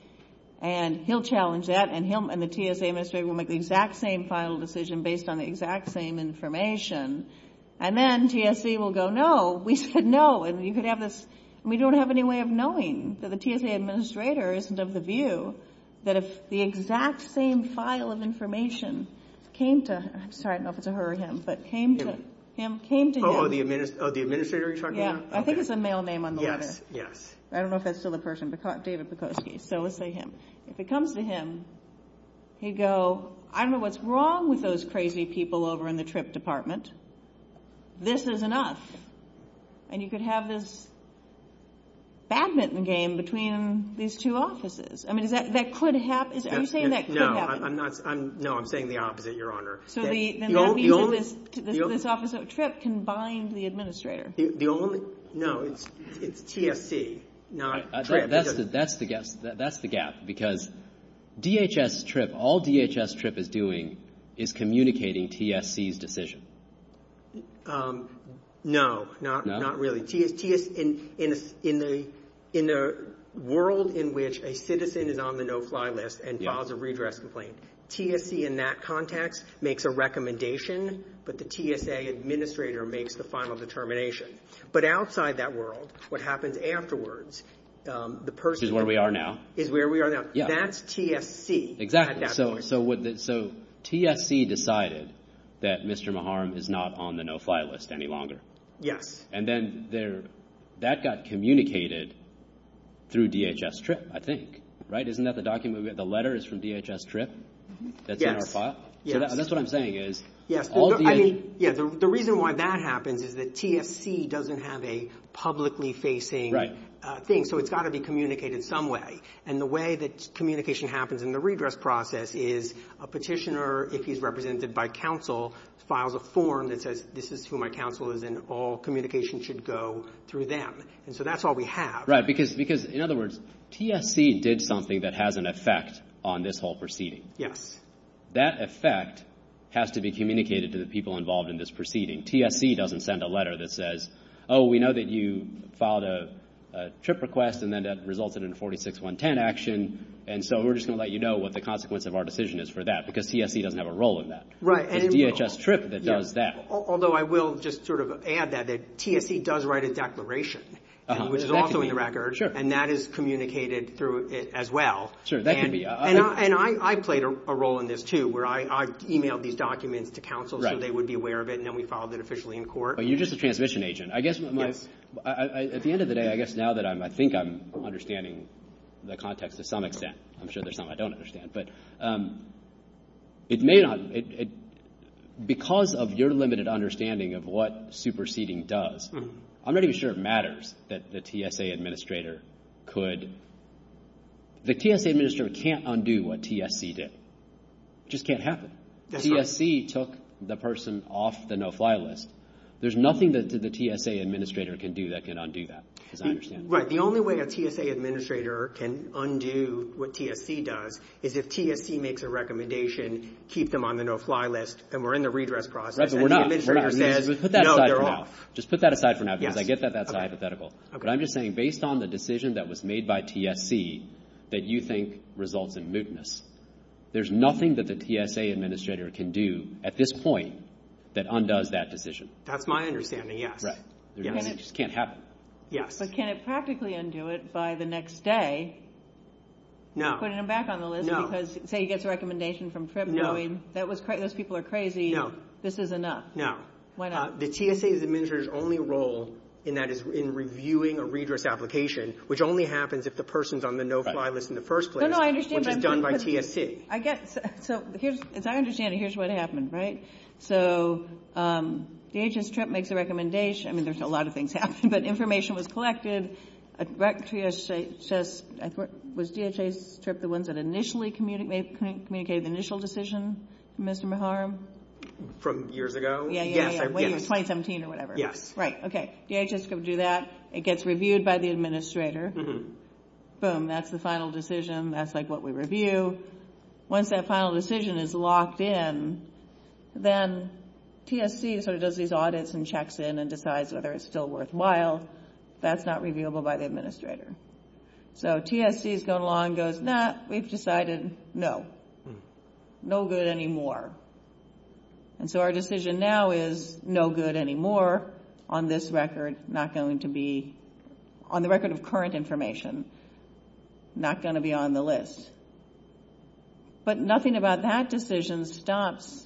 and he'll challenge that, and the TSA administrator will make the exact same final decision based on the exact same information, and then TSA will go, no, we said no, and we don't have any way of knowing. So the TSA administrator isn't of the view that if the exact same file of information came to him, I'm sorry, I don't know if it's a her or him, but came to him. Oh, the administrator you're talking about? Yeah, I think it's a male name on the list. I don't know if that's still the person, David Bukoski, so we'll say him. If it comes to him, he'd go, I don't know what's wrong with those crazy people over in the TRIP department. This isn't us. And you could have this badminton game between these two offices. I mean, that could happen. No, I'm saying the opposite, Your Honor. So this office of TRIP can bind the administrator. No, it's TSC, not TRIP. That's the gap, because DHS TRIP, all DHS TRIP is doing is communicating TSC's decision. No, not really. In a world in which a citizen is on the no-fly list and files a redress complaint, TSC in that context makes a recommendation, but the TSA administrator makes the final determination. But outside that world, what happens afterwards, the person is where we are now. That's TSC. So TSC decided that Mr. Maharm is not on the no-fly list any longer. Yes. And then that got communicated through DHS TRIP, I think. Right? Isn't that the document? The letter is from DHS TRIP that's in our file? Yes. That's what I'm saying. Yes, the reason why that happens is that TSC doesn't have a publicly facing thing, so it's got to be communicated some way. And the way that communication happens in the redress process is a petitioner, if he's represented by counsel, files a form that says, this is who my counsel is and all communication should go through them. And so that's all we have. Right, because in other words, TSC did something that has an effect on this whole proceeding. Yes. That effect has to be communicated to the people involved in this proceeding. TSC doesn't send a letter that says, oh, we know that you filed a TRIP request and then that resulted in a 46110 action, and so we're just going to let you know what the consequence of our decision is for that, because TSC doesn't have a role in that. Right. It's DHS TRIP that does that. Although I will just sort of add that TSC does write a declaration, which is also in the record. Sure. And that is communicated through it as well. Sure, that can be. And I played a role in this, too, where I emailed these documents to counsel so they would be aware of it and then we filed it officially in court. You're just a transmission agent. I guess at the end of the day, I guess now that I think I'm understanding the context to some extent, I'm sure there's some I don't understand, but because of your limited understanding of what superseding does, I'm not even sure it matters that the TSA administrator could. The TSA administrator can't undo what TSC did. It just can't happen. TSC took the person off the no-fly list. There's nothing that the TSA administrator can do that can undo that, as I understand it. Right. The only way a TSA administrator can undo what TSC does is if TSC makes a recommendation, keep them on the no-fly list, and we're in the redress process. Right, but we're not. Put that aside for now. No, they're off. Just put that aside for now because I get that that's hypothetical. Okay. But I'm just saying, based on the decision that was made by TSC that you think results in mootness, there's nothing that the TSA administrator can do at this point that undoes that decision. That's my understanding, yes. Right. It just can't happen. Yes. But can it practically undo it by the next day? No. Putting them back on the list because, say, you get the recommendation from February. Most people are crazy. No. This is enough. No. Why not? The TSA administrator's only role in that is in reviewing a redress application, which only happens if the person's on the no-fly list in the first place, which is done by TSC. As I understand it, here's what happened, right? So the agent's trip makes the recommendation. I mean, there's a lot of things happening, but information was collected. Was DHA's trip the one that initially communicated the initial decision, Mr. Maharam? From years ago? Yeah, yeah, yeah. 2017 or whatever. Right. Okay. DHA's going to do that. It gets reviewed by the administrator. Boom. That's the final decision. That's what we review. Once that final decision is locked in, then TSC sort of does these audits and checks in and decides whether it's still worthwhile. That's not reviewable by the administrator. So TSC's gone along and goes, no, we've decided no. No good anymore. And so our decision now is no good anymore on this record. Not going to be on the record of current information. Not going to be on the list. But nothing about that decision stops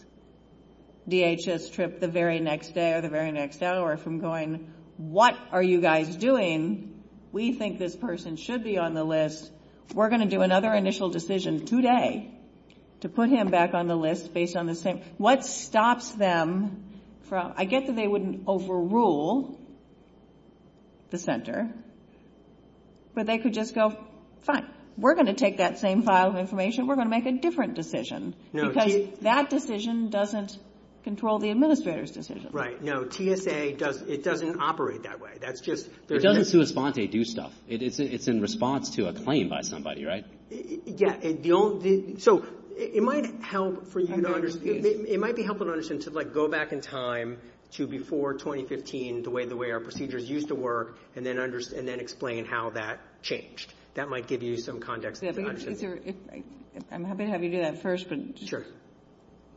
DHS trip the very next day or the very next hour from going, what are you guys doing? We think this person should be on the list. We're going to do another initial decision today to put him back on the list based on what stops them from, I guess that they wouldn't overrule the center, but they could just go, fine, we're going to take that same file of information. We're going to make a different decision. Because that decision doesn't control the administrator's decision. Right. No, TSA doesn't, it doesn't operate that way. It doesn't do response, they do stuff. It's in response to a claim by somebody, right? Yeah. So it might help for you to understand, it might be helpful to understand to go back in time to before 2015, the way our procedures used to work, and then explain how that changed. That might give you some context. I'm happy to have you do that first. I'm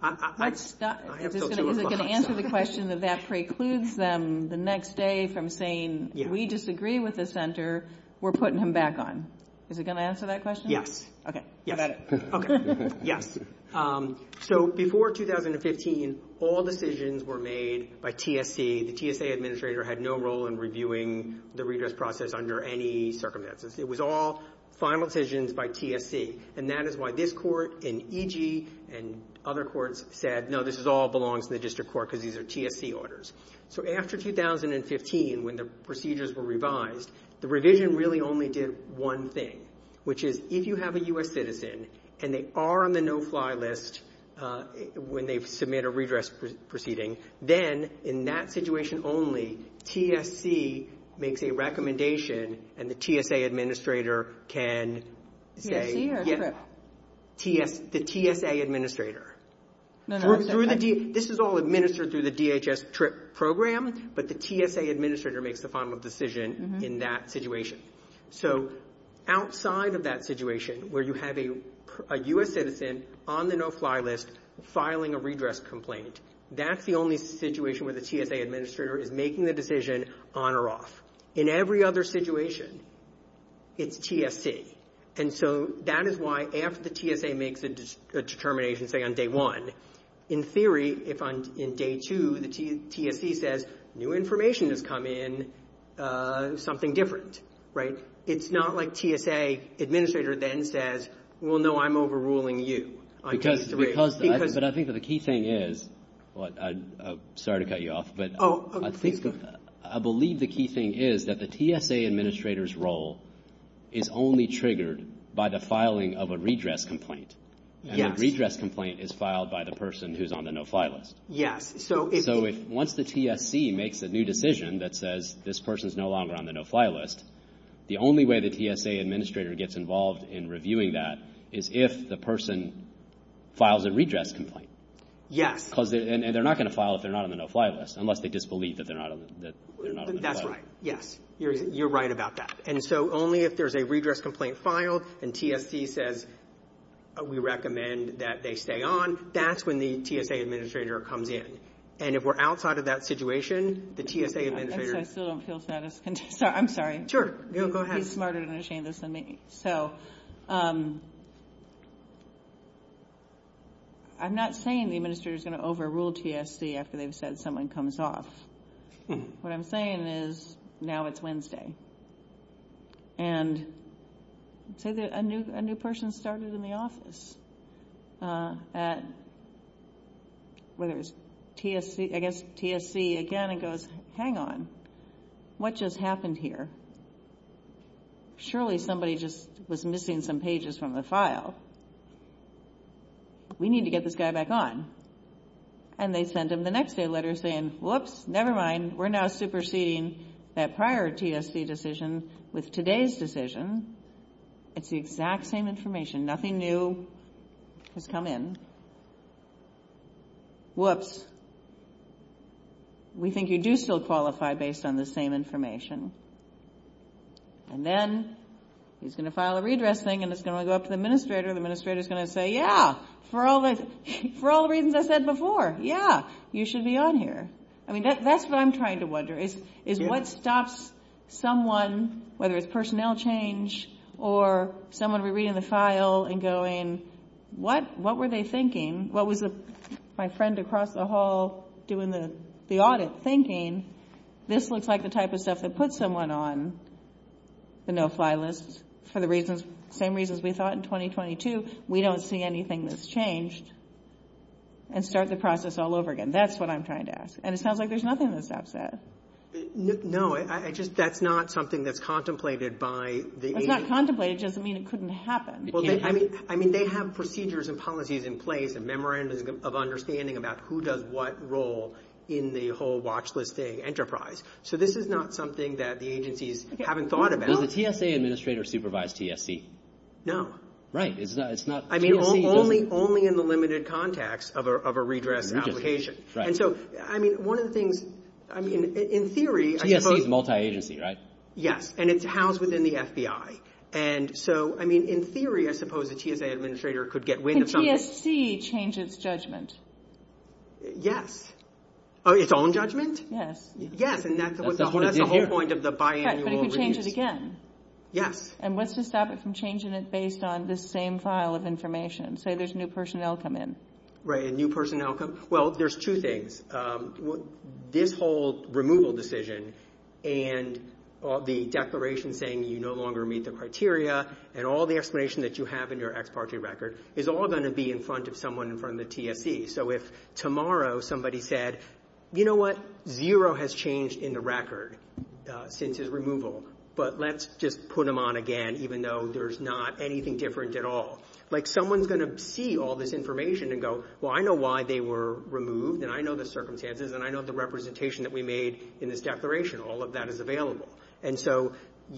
going to answer the question that precludes them the next day from saying, we disagree with the center, we're putting him back on. Is it going to answer that question? Okay. How about it? Okay. Yeah. So before 2015, all decisions were made by TSC. The TSA administrator had no role in reviewing the redress process under any circumstances. It was all final decisions by TSC. And that is why this court and EG and other courts said, no, this all belongs to the district court because these are TSC orders. So after 2015, when the procedures were revised, the revision really only did one thing, which is, if you have a U.S. citizen and they are on the no-fly list when they submit a redress proceeding, then in that situation only, TSC makes a recommendation and the TSA administrator can say... TSA or TRIP. The TSA administrator. This is all administered through the DHS TRIP program, but the TSA administrator makes the final decision in that situation. So outside of that situation, where you have a U.S. citizen on the no-fly list filing a redress complaint, that's the only situation where the TSA administrator is making the decision on or off. In every other situation, it's TSC. And so that is why after the TSA makes a determination, say, on day one, in theory, if on day two, the TSC says, new information has come in, something different. Right? It's not like TSA administrator then says, well, no, I'm overruling you. Because... But I think that the key thing is... Sorry to cut you off, but... Oh, okay. I believe the key thing is that the TSA administrator's role is only triggered by the filing of a redress complaint. And a redress complaint is filed by the person who's on the no-fly list. Yes. So once the TSC makes a new decision that says this person's no longer on the no-fly list, the only way the TSA administrator gets involved in reviewing that is if the person files a redress complaint. Yes. And they're not going to file it if they're not on the no-fly list, unless they disbelieve that they're not on the no-fly list. That's right. Yes. You're right about that. And so only if there's a redress complaint filed and TSC says, we recommend that they stay on, that's when the TSA administrator comes in. And if we're outside of that situation, the TSA administrator... I still don't feel satisfied. I'm sorry. Sure. Go ahead. You're smarter than me. So I'm not saying the administrator's going to overrule TSC after they've said someone comes off. What I'm saying is now it's Wednesday. And so a new person started in the office at, I guess, TSC again and goes, hang on. What just happened here? Surely somebody just was missing some pages from the file. We need to get this guy back on. And they sent him the next day a letter saying, whoops, never mind. We're now superseding that prior TSC decision with today's decision. It's the exact same information. Nothing new has come in. Whoops. We think you do still qualify based on the same information. And then he's going to file a redressing and it's going to go up to the administrator. The administrator's going to say, yeah, for all the reasons I said before, yeah, you should be on here. I mean, that's what I'm trying to wonder is what stops someone, whether it's personnel change or someone rereading the file and going, what were they thinking? What was my friend across the hall doing the audit thinking? This looks like the type of stuff that puts someone on the no-fly list for the same reasons we thought in 2022. We don't see anything that's changed. And start the process all over again. That's what I'm trying to ask. And it sounds like there's nothing the staff said. No, that's not something that's contemplated by the agency. It's not contemplated. It doesn't mean it couldn't happen. I mean, they have procedures and policies in place and memorandums of understanding about who does what role in the whole watch list thing enterprise. So this is not something that the agencies haven't thought about. Does the TSA administrator supervise TSP? No. Right. I mean, only in the limited context of a redress application. And so, I mean, one of the things, I mean, in theory. TSP is multi-agency, right? Yeah. And it's housed within the FBI. And so, I mean, in theory, I suppose the TSA administrator could get wind of something. Can TSC change its judgment? Yes. Oh, its own judgment? Yes. Yes. And that's the whole point of the biannual release. But if you change it again. Yeah. And what's to stop it from changing it based on this same file of information? Say there's new personnel come in. Right. And new personnel come. Well, there's two things. This whole removal decision and the declaration saying you no longer meet the criteria and all the explanation that you have in your expatriate record is all going to be in front of someone in front of the TSP. So, if tomorrow somebody said, you know what? Zero has changed in the record since his removal. But let's just put him on again even though there's not anything different at all. Like someone's going to see all this information and go, well, I know why they were removed and I know the circumstances and I know the representation that we made in this declaration. All of that is available. And so,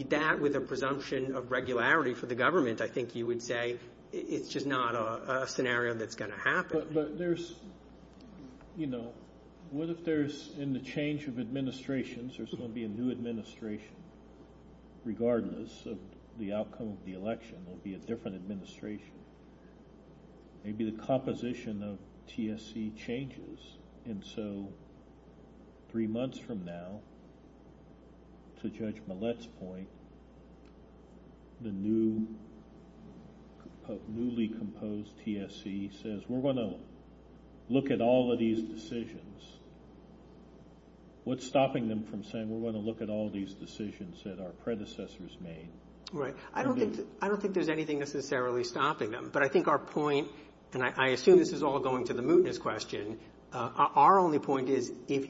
that with a presumption of regularity for the government, I think you would say it's just not a scenario that's going to happen. But there's, you know, what if there's in the change of administrations, there's going to be a new administration regardless of the outcome of the election will be a different administration. Maybe the composition of TSC changes. And so, three months from now, to Judge Millett's point, the newly composed TSC says we're going to look at all of these decisions. What's stopping them from saying we're going to look at all these decisions that our predecessors made? Right. I don't think there's anything necessarily stopping them. But I think our point, and I assume this is all going to the mootness question, our only point is if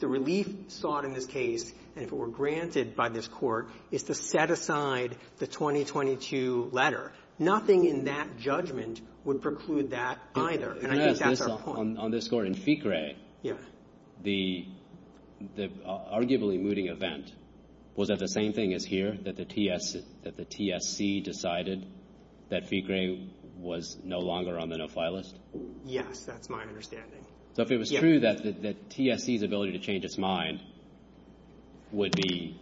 the relief sought in this case and if it were granted by this court is to set aside the 2022 letter. Nothing in that judgment would preclude that either. And I think that's our point. On this court in FICRE, the arguably mooting event, was that the same thing as here? That the TSC decided that FICRE was no longer on the no-file list? Yeah, that's my understanding. So if it was true that TSC's ability to change its mind would be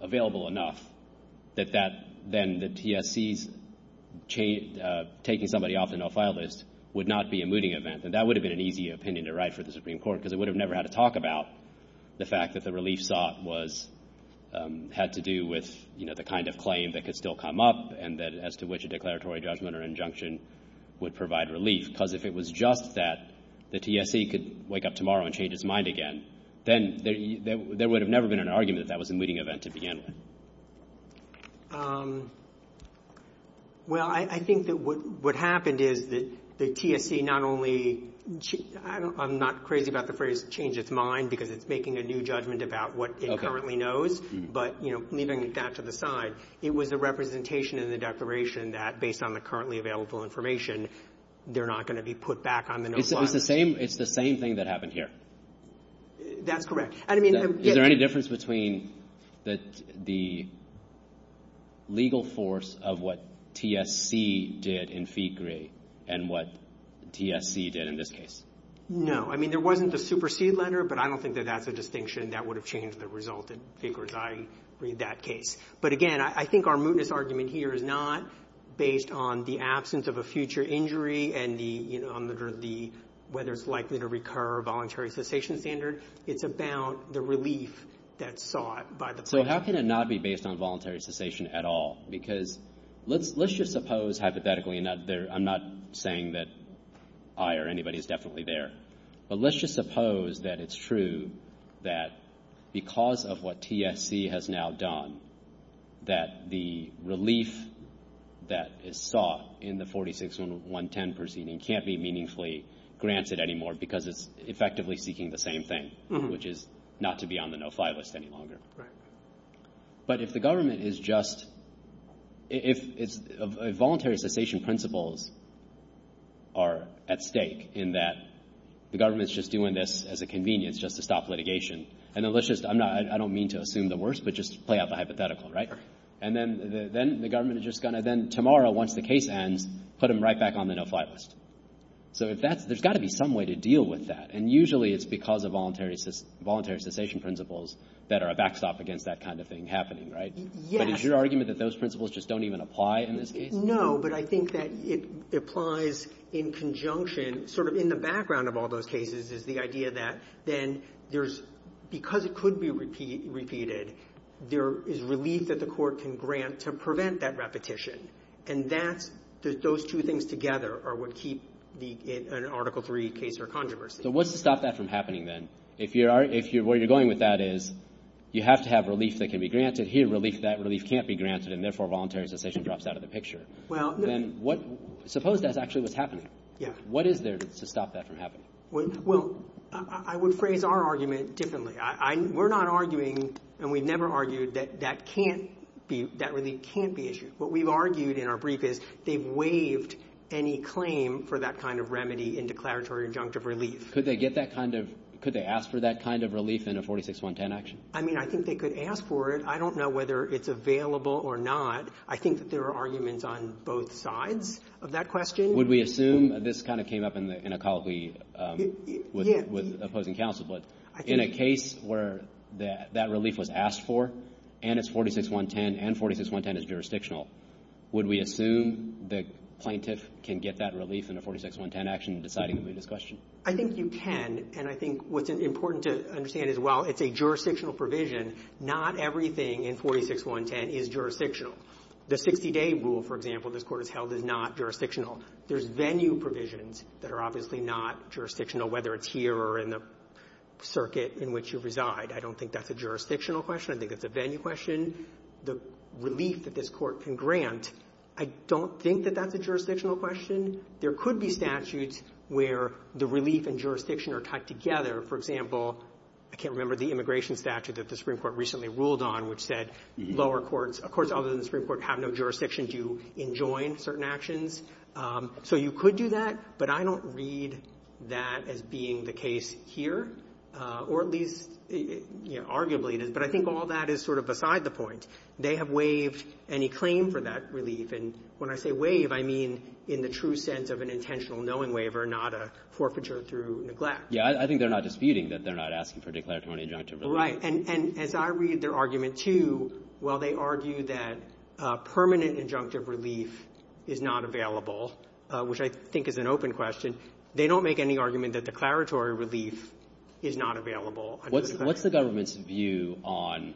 available enough, then the TSC taking somebody off the no-file list would not be a mooting event. And that would have been an easy opinion to write for the Supreme Court because it would have never had to talk about the fact that the relief sought had to do with the kind of claim that could still come up and as to which a declaratory judgment or injunction would provide relief. Because if it was just that the TSC could wake up tomorrow and change its mind again, then there would have never been an argument that that was a mooting event to begin with. Well, I think that what happened is that the TSC not only – I'm not crazy about the phrase, change its mind, because it's making a new judgment about what it currently knows. But leaving that to the side, it was a representation in the declaration that based on the currently available information, they're not going to be put back on the no-file list. It's the same thing that happened here? That's correct. Is there any difference between the legal force of what TSC did in FICRE and what TSC did in this case? No. I mean, there wasn't a supersede letter, but I don't think that that's a distinction that would have changed the result in FICRE as I read that case. But again, I think our mootness argument here is not based on the absence of a future injury and whether it's likely to recur a voluntary cessation standard. It's about the relief that's sought by the court. So how can it not be based on voluntary cessation at all? Because let's just suppose, hypothetically – I'm not saying that I or anybody is definitely there – but let's just suppose that it's true that because of what TSC has now done, that the relief that is sought in the 46-110 proceeding can't be meaningfully granted anymore because it's effectively seeking the same thing, which is not to be on the no-file list any longer. But if the government is just – if voluntary cessation principles are at stake in that the government's just doing this as a convenience just to stop litigation, and then let's just – I don't mean to assume the worst, but just to play out the hypothetical, right? And then the government is just going to then, tomorrow, once the case ends, put them right back on the no-file list. So there's got to be some way to deal with that, and usually it's because of voluntary cessation principles that are a backstop against that kind of thing happening, right? But is your argument that those principles just don't even apply in this case? No, but I think that it applies in conjunction – sort of in the background of all those cases is the idea that then there's – because it could be repeated, there is relief that the court can grant to prevent that repetition. And that – those two things together are what keep the Article III case or controversy. So what's to stop that from happening then? If you are – if you're – where you're going with that is you have to have relief that can be granted. Here, relief that – relief can't be granted, and therefore voluntary cessation drops out of the picture. Well – Then what – suppose that's actually what's happening. Yeah. What is there to stop that from happening? Well, I would phrase our argument differently. We're not arguing, and we've never argued, that that can't be – that relief can't be issued. What we've argued in our brief is they've waived any claim for that kind of remedy in declaratory injunctive relief. Could they get that kind of – could they ask for that kind of relief in a 46110 action? I mean, I think they could ask for it. I don't know whether it's available or not. I think that there are arguments on both sides of that question. Would we assume – this kind of came up in a colleague with opposing counsel. But in a case where that relief was asked for and it's 46110 and 46110 is jurisdictional, would we assume the plaintiff can get that relief in a 46110 action in deciding to move this question? I think you can, and I think what's important to understand is while it's a jurisdictional provision, not everything in 46110 is jurisdictional. The 60-day rule, for example, this court has held is not jurisdictional. There's venue provisions that are obviously not jurisdictional, whether it's here or in the circuit in which you reside. I don't think that's a jurisdictional question. I think it's a venue question. The relief that this court can grant, I don't think that that's a jurisdictional question. I mean, there could be statutes where the relief and jurisdiction are tied together. For example, I can't remember the immigration statute that the Supreme Court recently ruled on, which said lower courts, of course, other than the Supreme Court, have no jurisdiction to enjoin certain actions. So you could do that, but I don't read that as being the case here, or at least arguably. But I think all that is sort of beside the point. They have waived any claim for that relief. And when I say waive, I mean in the true sense of an intentional knowing waiver, not a forfeiture through neglect. Yeah, I think they're not disputing that they're not asking for declaratory or injunctive relief. Right. And as I read their argument, too, while they argue that permanent injunctive relief is not available, which I think is an open question, they don't make any argument that declaratory relief is not available. What's the government's view on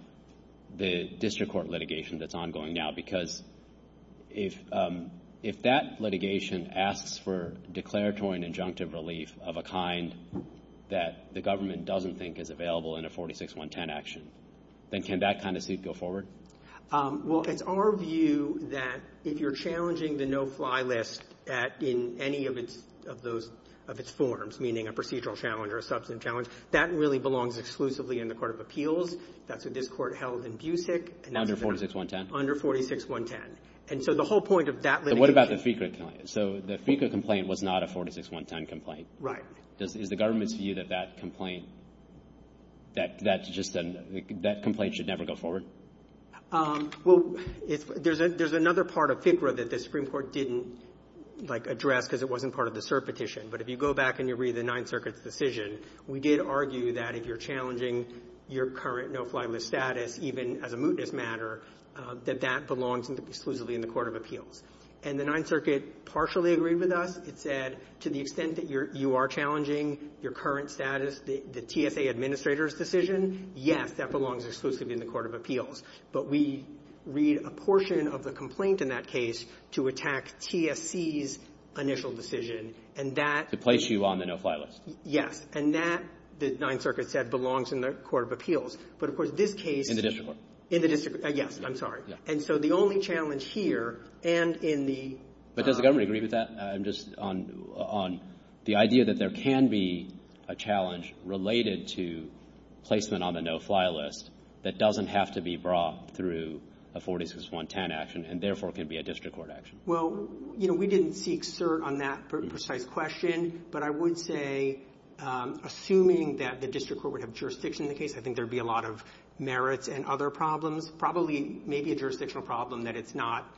the district court litigation that's ongoing now? Because if that litigation asks for declaratory and injunctive relief of a kind that the government doesn't think is available in a 46110 action, then can that kind of suit go forward? Well, it's our view that if you're challenging the no-fly list in any of its forms, meaning a procedural challenge or a substantive challenge, that really belongs exclusively in the court of appeals. That's what this court held in Busick. Under 46110? Under 46110. And so the whole point of that litigation. And what about the FICA complaint? So the FICA complaint was not a 46110 complaint. Right. Is the government's view that that complaint should never go forward? Well, there's another part of FICA that the Supreme Court didn't, like, address because it wasn't part of the cert petition. But if you go back and you read the Ninth Circuit's decision, we did argue that if you're challenging your current no-fly list status, even as a mootness matter, that that belongs exclusively in the court of appeals. And the Ninth Circuit partially agreed with us. It said to the extent that you are challenging your current status, the TSA administrator's decision, yes, that belongs exclusively in the court of appeals. But we read a portion of the complaint in that case to attack TSC's initial decision. To place you on the no-fly list. Yes. And that, the Ninth Circuit said, belongs in the court of appeals. But, of course, this case... In the district court. In the district court. Yes, I'm sorry. And so the only challenge here and in the... But does the government agree with that? I'm just on the idea that there can be a challenge related to placement on the no-fly list that doesn't have to be brought through a 46110 action and, therefore, can be a district court action. Well, you know, we didn't seek cert on that precise question. But I would say, assuming that the district court would have jurisdiction in the case, I think there would be a lot of merits and other problems. Probably maybe a jurisdictional problem that it's not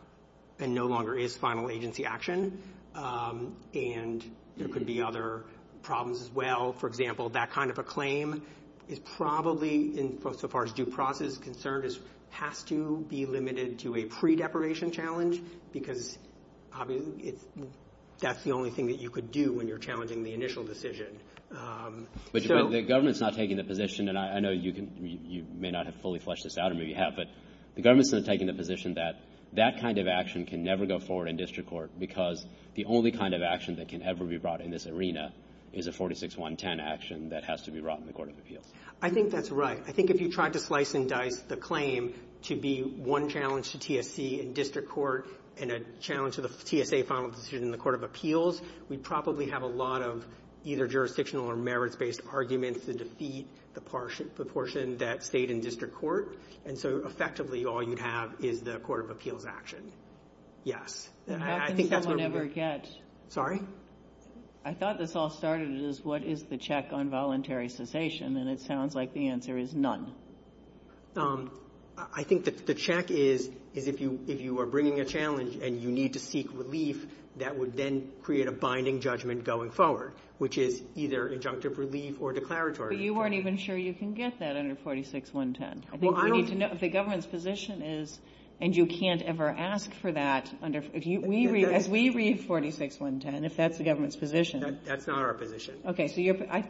and no longer is final agency action. And there could be other problems as well. For example, that kind of a claim is probably, so far as due process is concerned, has to be limited to a pre-deparation challenge. Because that's the only thing that you could do when you're challenging the initial decision. But the government's not taking the position, and I know you may not have fully fleshed this out, but the government's not taking the position that that kind of action can never go forward in district court because the only kind of action that can ever be brought in this arena is a 46110 action that has to be brought in the court of appeal. I think that's right. I think if you tried to slice and dice the claim to be one challenge to TSC in district court and a challenge to the TSA final decision in the court of appeals, we probably have a lot of either jurisdictional or merits-based arguments to defeat the portion that stayed in district court. And so, effectively, all you have is the court of appeals action. Yes. How can someone ever get... Sorry? I thought this all started as what is the check on voluntary cessation? And then it sounds like the answer is none. I think the check is if you are bringing a challenge and you need to seek relief, that would then create a binding judgment going forward, which is either injunctive relief or declaratory relief. But you weren't even sure you can get that under 46110. The government's position is, and you can't ever ask for that, as we read 46110, if that's the government's position. That's not our position. Okay.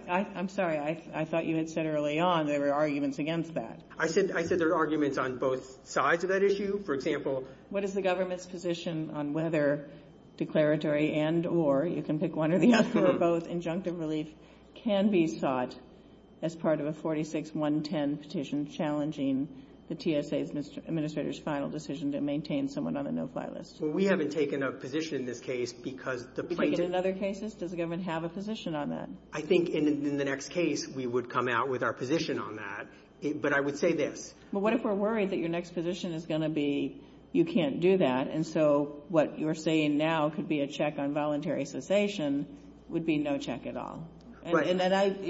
I'm sorry. I thought you had said early on there were arguments against that. I said there are arguments on both sides of that issue. For example... What is the government's position on whether declaratory and or, you can pick one or the other, both injunctive relief can be sought as part of a 46110 petition challenging the TSA's administrator's final decision to maintain someone on a no-fly list? Well, we haven't taken a position in this case because the plaintiff... You've taken another case? Does the government have a position on that? I think in the next case we would come out with our position on that. But I would say this. But what if we're worried that your next position is going to be you can't do that, and so what you're saying now could be a check on voluntary cessation would be no check at all? Right. And that's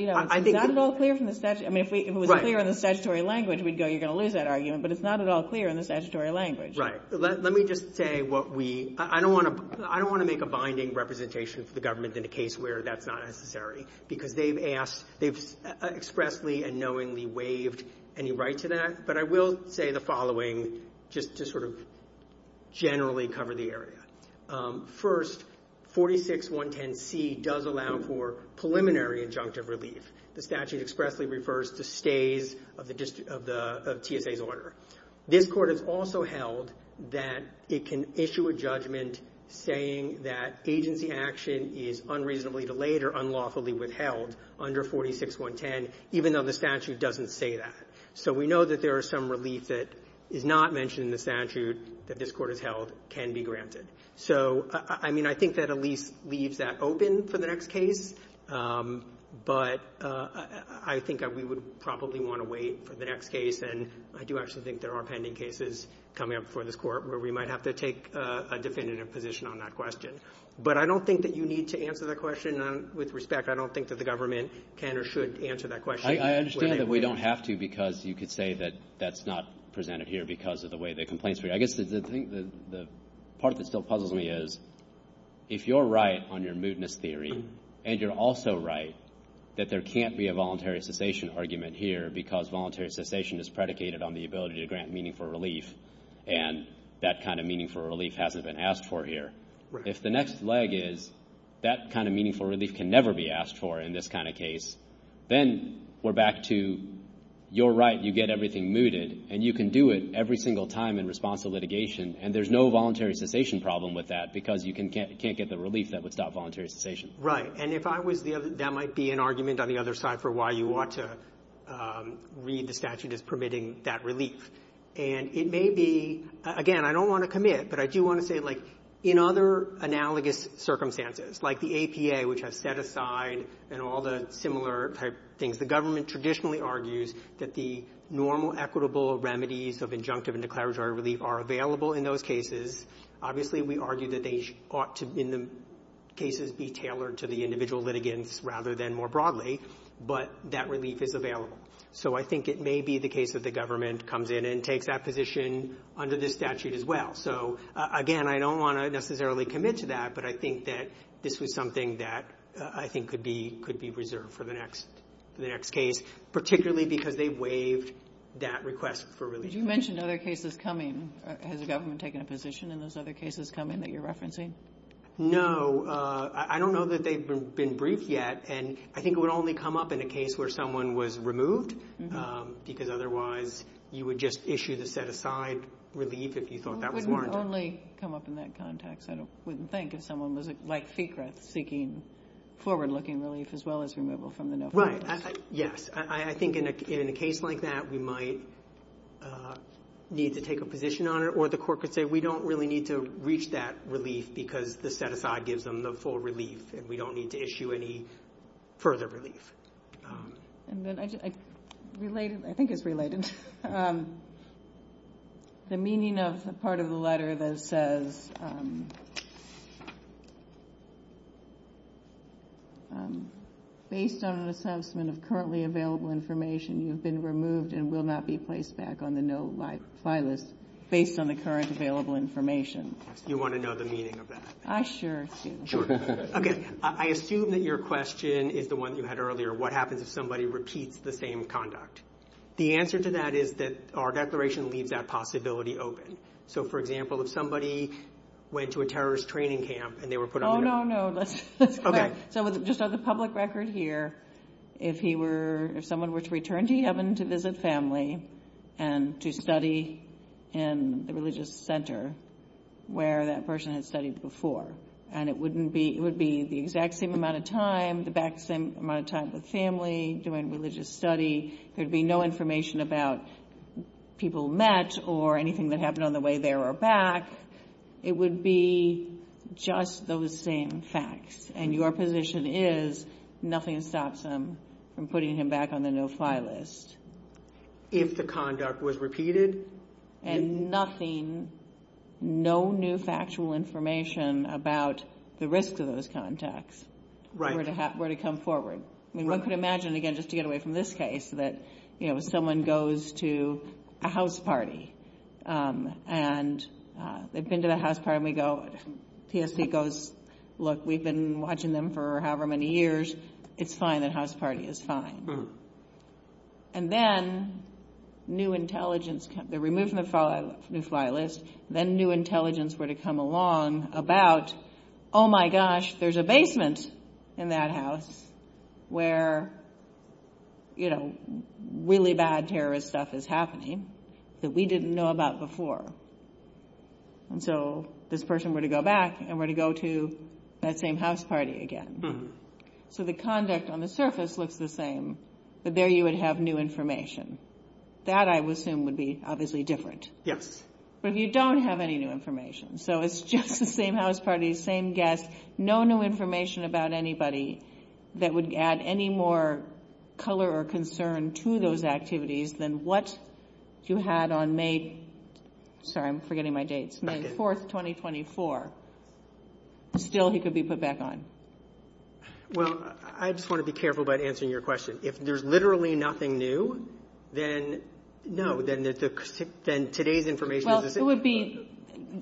not at all clear from the statute. I mean, if it was clear in the statutory language, you're going to lose that argument, but it's not at all clear in the statutory language. Right. Let me just say what we... I don't want to make a binding representation for the government in a case where that's not necessary because they've expressly and knowingly waived any right to that, but I will say the following just to sort of generally cover the area. First, 46110C does allow for preliminary injunctive relief. The statute expressly refers to stays of TSA's order. This court has also held that it can issue a judgment saying that agency action is unreasonably delayed or unlawfully withheld under 46110, even though the statute doesn't say that. So we know that there is some relief that is not mentioned in the statute that this court has held can be granted. So, I mean, I think that at least leaves that open for the next case, but I think we would probably want to wait for the next case, and I do actually think there are pending cases coming up for this court where we might have to take a definitive position on that question. But I don't think that you need to answer that question. With respect, I don't think that the government can or should answer that question. I understand that we don't have to because you could say that that's not presented here because of the way the complaints are. I guess the part that still puzzles me is if you're right on your mootness theory and you're also right that there can't be a voluntary cessation argument here because voluntary cessation is predicated on the ability to grant meaningful relief, and that kind of meaningful relief hasn't been asked for here. If the next leg is that kind of meaningful relief can never be asked for in this kind of case, then we're back to you're right, you get everything mooted, and you can do it every single time in response to litigation, and there's no voluntary cessation problem with that because you can't get the relief that would stop voluntary cessation. Right, and that might be an argument on the other side for why you ought to read the statute as permitting that relief. And it may be... Again, I don't want to commit, but I do want to say, like, in other analogous circumstances, like the APA, which has set aside and all the similar things, the government traditionally argues that the normal equitable remedies of injunctive and declaratory relief are available in those cases. Obviously, we argue that they ought to, in the cases, be tailored to the individual litigants rather than more broadly, but that relief is available. So I think it may be the case that the government comes in and takes that position under this statute as well. So, again, I don't want to necessarily commit to that, but I think that this is something that I think could be reserved for the next case, particularly because they waived that request for relief. You mentioned other cases coming. Has the government taken a position in those other cases coming that you're referencing? No. I don't know that they've been briefed yet, and I think it would only come up in a case where someone was removed, because otherwise you would just issue the set-aside relief if you thought that was warranted. It would only come up in that context, I wouldn't think, if someone was, like, seeking forward-looking relief as well as removal from the NOFA. Right, yes. I think in a case like that we might need to take a position on it, or the court could say we don't really need to reach that relief because the set-aside gives them the full relief and we don't need to issue any further relief. I think it's related. The meaning of the part of the letter that says, based on an assessment of currently available information, you've been removed and will not be placed back on the NOFA list based on the current available information. You want to know the meaning of that? I sure do. Okay, I assume that your question is the one you had earlier, what happens if somebody repeats the same conduct. The answer to that is that our declaration leaves that possibility open. So, for example, if somebody, went to a terrorist training camp and they were put on the NOFA list. Oh, no, no. Just on the public record here, if someone were to return to heaven to visit family and to study in a religious center where that person had studied before, and it would be the exact same amount of time, the exact same amount of time with family, doing religious study, there would be no information about people met or anything that happened on the way there or back. It would be just those same facts, and your position is nothing stops them from putting him back on the NOFA list. If the conduct was repeated? And nothing, no new factual information about the risk of those contacts, where to come forward. One could imagine, again, just to get away from this case, that if someone goes to a house party, and they've been to the house party, and we go, PSC goes, look, we've been watching them for however many years, it's fine, that house party is fine. And then, new intelligence, the removal of the new fly list, then new intelligence were to come along about, oh, my gosh, there's a basement in that house, where really bad terrorist stuff is happening, that we didn't know about before. And so, this person were to go back, and were to go to that same house party again. So, the conduct on the surface looks the same, but there you would have new information. That, I would assume, would be obviously different. But you don't have any new information. So, it's just the same house party, same guests, no new information about anybody that would add any more color or concern to those activities than what you had on May, sorry, I'm forgetting my dates, May 4th, 2024. Still, he could be put back on. Well, I just want to be careful about answering your question. If there's literally nothing new, then, no, then today's information... Well, it would be,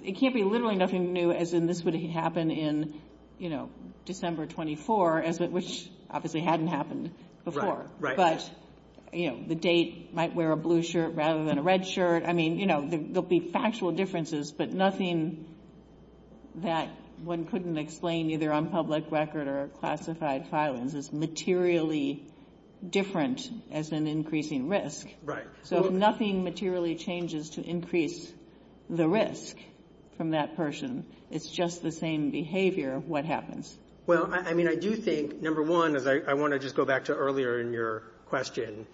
it can't be literally nothing new, as in this would happen in, you know, December 24, which obviously hadn't happened before. But, you know, the date, might wear a blue shirt rather than a red shirt. I mean, you know, there'll be factual differences, but nothing that one couldn't explain either on public record or classified silence is materially different as an increasing risk. Right. So, if nothing materially changes to increase the risk from that person, it's just the same behavior of what happens. Well, I mean, I do think, number one, I want to just go back to earlier in your question,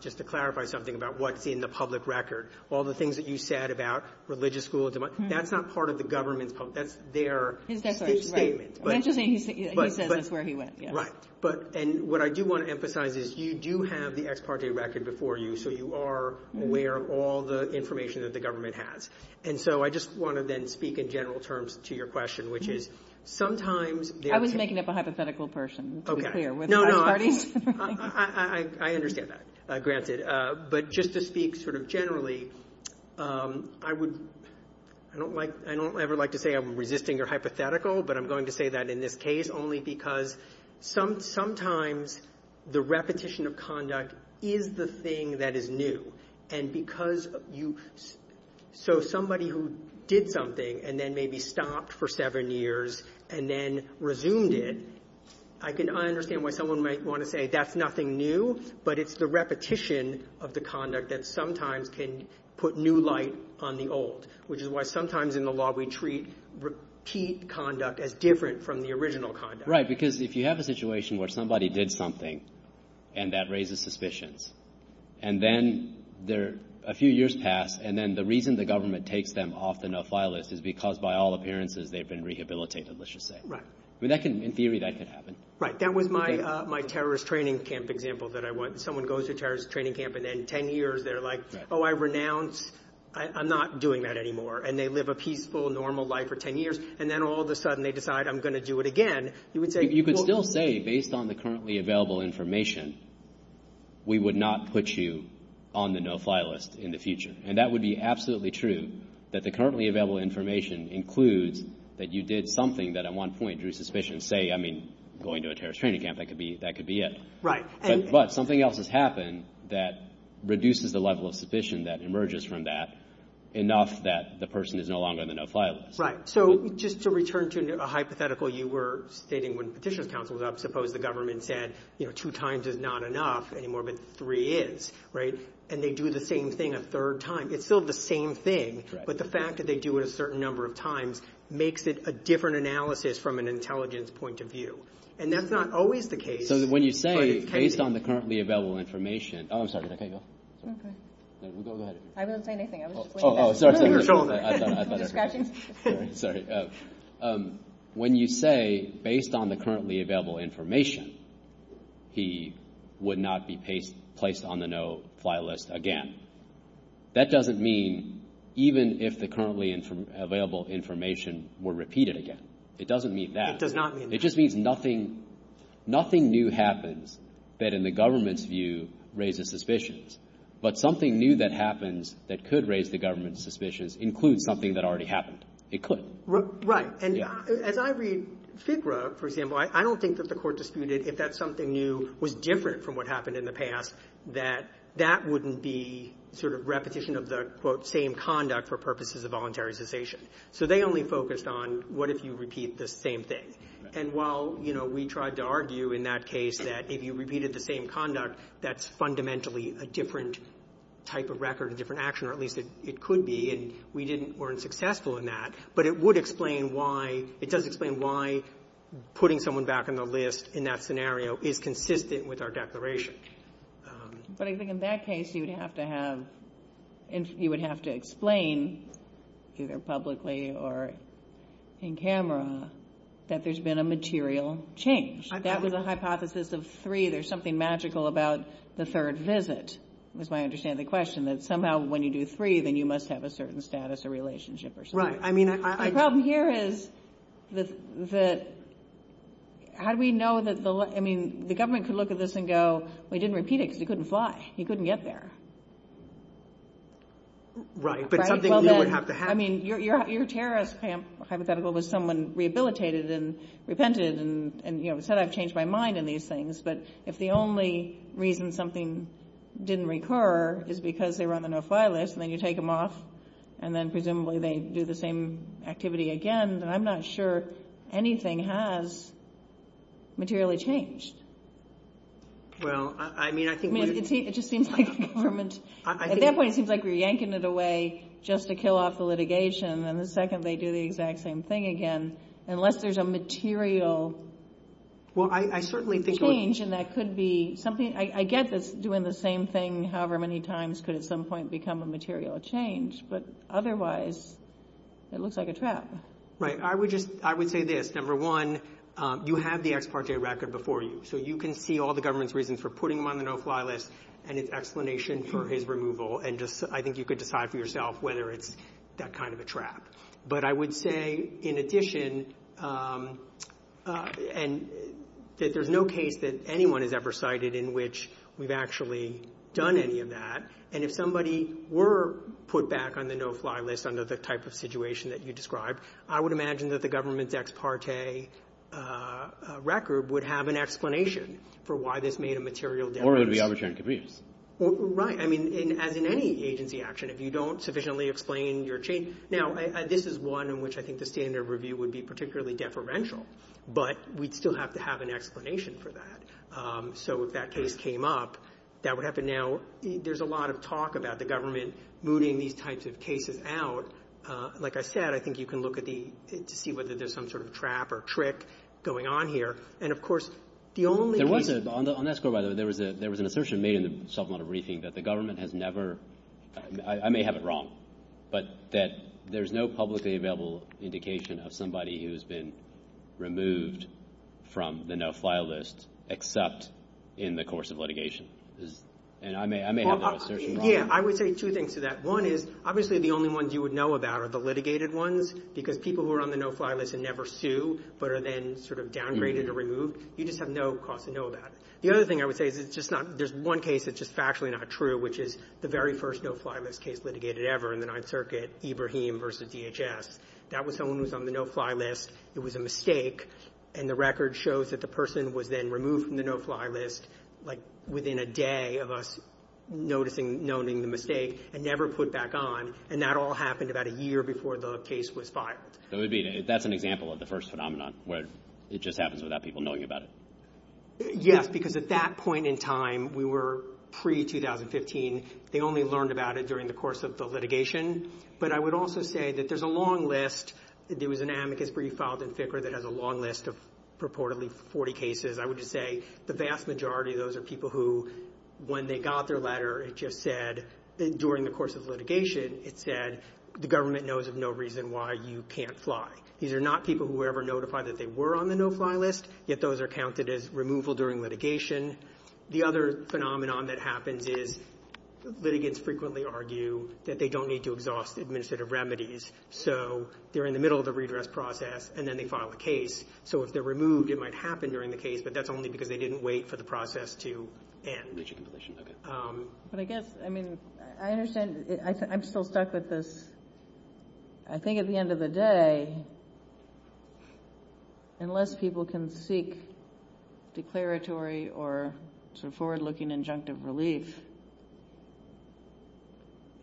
just to clarify something about what's in the public record. All the things that you said about religious schools, that's not part of the government, that's their... That's right. I'm just saying he said that's where he went. Right. But, and what I do want to emphasize is you do have the ex parte record before you, so you are aware of all the information that the government has. And so I just want to then speak in general terms to your question, which is sometimes... I was making up a hypothetical person. No, no, I understand that, granted. But just to speak sort of generally, I don't ever like to say I'm resisting or hypothetical, but I'm going to say that in this case only because sometimes the repetition of conduct is the thing that is new. And because you... So somebody who did something and then maybe stopped for seven years and then resumed it, I understand why someone might want to say that's nothing new, but it's the repetition of the conduct that sometimes can put new light on the old, which is why sometimes in the law we treat repeat conduct as different from the original conduct. Right, because if you have a situation where somebody did something and that raises suspicions, and then a few years pass, and then the reason the government takes them off the no-fly list is because by all appearances they've been rehabilitated, let's just say. Right. In theory, that can happen. Right. That was my terrorist training camp example that someone goes to terrorist training camp and in 10 years they're like, oh, I renounced. I'm not doing that anymore. And they live a peaceful, normal life for 10 years, and then all of a sudden they decide I'm going to do it again. You could still say, based on the currently available information, we would not put you on the no-fly list in the future. And that would be absolutely true, that the currently available information includes that you did something that at one point drew suspicion, say, I mean, going to a terrorist training camp, that could be it. Right. But something else has happened that reduces the level of suspicion that emerges from that enough that the person is no longer on the no-fly list. Right. So just to return to a hypothetical you were stating when Petitioner's Council was up, suppose the government said two times is not enough anymore, but three is. Right. And they do the same thing a third time. It's still the same thing, but the fact that they do it a certain number of times makes it a different analysis from an intelligence point of view. And that's not always the case. So when you say, based on the currently available information, oh, I'm sorry, I can't go? Okay. Go ahead. I didn't say anything, I was just waiting. Oh, sorry. Discussion? Sorry. When you say, based on the currently available information, he would not be placed on the no-fly list again, that doesn't mean even if the currently available information were repeated again. It doesn't mean that. It does not mean that. It just means nothing new happens that in the government's view raises suspicions. But something new that happens that could raise the government's suspicions includes something that already happened. It could. Right. And as I read FIGRA, for example, I don't think that the court disputed if that something new was different from what happened in the past that that wouldn't be repetition of the same conduct for purposes of voluntary cessation. So they only focused on what if you repeat the same thing. And while we tried to argue in that case that if you repeated the same conduct, that's fundamentally a different type of record and different action, or at least it could be, and we weren't successful in that, but it would explain why, it does explain why putting someone back on the list in that scenario is consistent with our declaration. But I think in that case, you would have to have, you would have to explain either publicly or in camera that there's been a material change. That was a hypothesis of three. There's something magical about the third visit. That's why I understand the question that somehow when you do three, then you must have a certain status or relationship or something. Right. My problem here is that how do we know that the, I mean, the government could look at this and go, well, he didn't repeat it because he couldn't fly. He couldn't get there. Right, but something would have to happen. I mean, your terrorist hypothetical was someone rehabilitated and repented and said I've changed my mind in these things, but if the only reason something didn't recur is because they were on the no-fly list, and then you take them off, and then presumably they do the same activity again, then I'm not sure anything has materially changed. Well, I mean, I think... I mean, it just seems like the government, at that point it seems like we're yanking it away just to kill off the litigation, and the second they do the exact same thing again, unless there's a material change, and that could be something. I get that doing the same thing however many times could at some point become a material change, but otherwise it looks like a trap. Right, I would say this. Number one, you have the ex parte record before you, so you can see all the government's reasons for putting them on the no-fly list and its explanation for his removal, and I think you could decide for yourself whether it's that kind of a trap. But I would say in addition that there's no case that anyone has ever cited in which we've actually done any of that, and if somebody were put back on the no-fly list under the type of situation that you described, I would imagine that the government's ex parte record would have an explanation for why this made a material difference. Or it would be arbitrary. Right, I mean, as in any agency action, if you don't sufficiently explain your... Now, this is one in which I think the standard review would be particularly deferential, but we'd still have to have an explanation for that. So if that case came up, that would have to now... There's a lot of talk about the government mooting these types of cases out. Like I said, I think you can look at the... See whether there's some sort of trap or trick going on here. And, of course, the only... There was a... On that score, by the way, there was an assertion made in the Self-Model Briefing that the government has never... I may have it wrong, but that there's no publicly available indication of somebody who's been removed from the no-fly list except in the course of litigation. And I may have that assertion wrong. Yeah, I would say two things to that. One is, obviously, the only ones you would know about are the litigated ones, because people who are on the no-fly list and never sue but are then sort of downgraded or removed, you just have no cause to know about it. The other thing I would say is it's just not... There's one case that's just factually not true, which is the very first no-fly list case litigated ever in the Ninth Circuit, Ibrahim v. DHS. That was someone who was on the no-fly list. It was a mistake, and the record shows that the person was then removed from the no-fly list, like, within a day of us noticing the mistake and never put back on. And that all happened about a year before the case was fired. That's an example of the first phenomenon, where it just happens without people knowing about it. Yes, because at that point in time, we were pre-2015. They only learned about it during the course of the litigation. But I would also say that there's a long list. There was an amicus brief filed in FICR that has a long list of reportedly 40 cases. I would just say the vast majority of those are people who, when they got their letter, it just said, during the course of litigation, it said, the government knows of no reason why you can't fly. These are not people who ever notified that they were on the no-fly list, yet those are counted as removal during litigation. The other phenomenon that happens is litigants frequently argue that they don't need to exhaust administrative remedies, so they're in the middle of a redress process, and then they file a case. So if they're removed, it might happen during the case, but that's only because they didn't wait for the process to end. But I guess, I mean, I understand. I'm still stuck with this. I think at the end of the day, unless people can seek declaratory or sort of forward-looking injunctive relief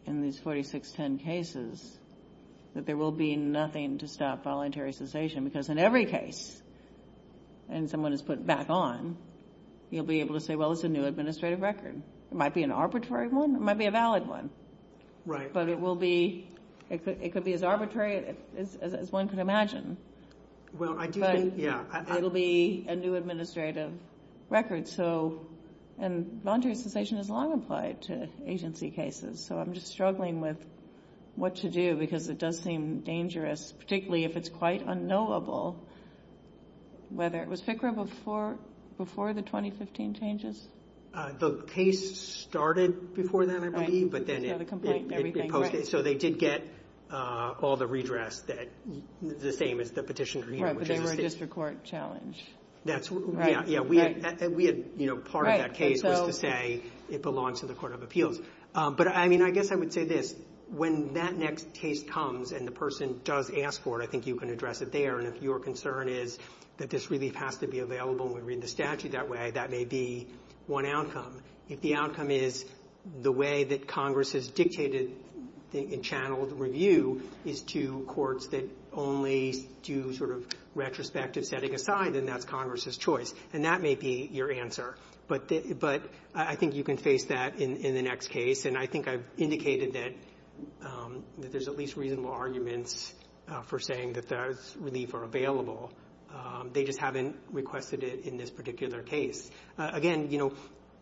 in these 4610 cases, that there will be nothing to stop voluntary cessation, because in every case, when someone is put back on, you'll be able to say, well, it's a new administrative record. It might be an arbitrary one. It might be a valid one. But it could be as arbitrary as one could imagine. But it'll be a new administrative record. And voluntary cessation is long applied to agency cases, so I'm just struggling with what to do, because it does seem dangerous, particularly if it's quite unknowable. Was FICRA before the 2015 changes? The case started before that, I believe, but then it reposted, so they did get all the redrafts, the same as the Petition for Human Rights. Right, but they were a district court challenge. Yeah, and part of that case was to say it belongs to the Court of Appeals. But, I mean, I guess I would say this. When that next case comes and the person does ask for it, I think you can address it there. And if your concern is that this relief has to be available when we read the statute that way, that may be one outcome. If the outcome is the way that Congress has dictated and channeled review is to courts that only do sort of retrospective setting aside, then that's Congress's choice. And that may be your answer. But I think you can face that in the next case. And I think I've indicated that there's at least reasonable arguments for saying that those reliefs are available. They just haven't requested it in this particular case. Again, you know,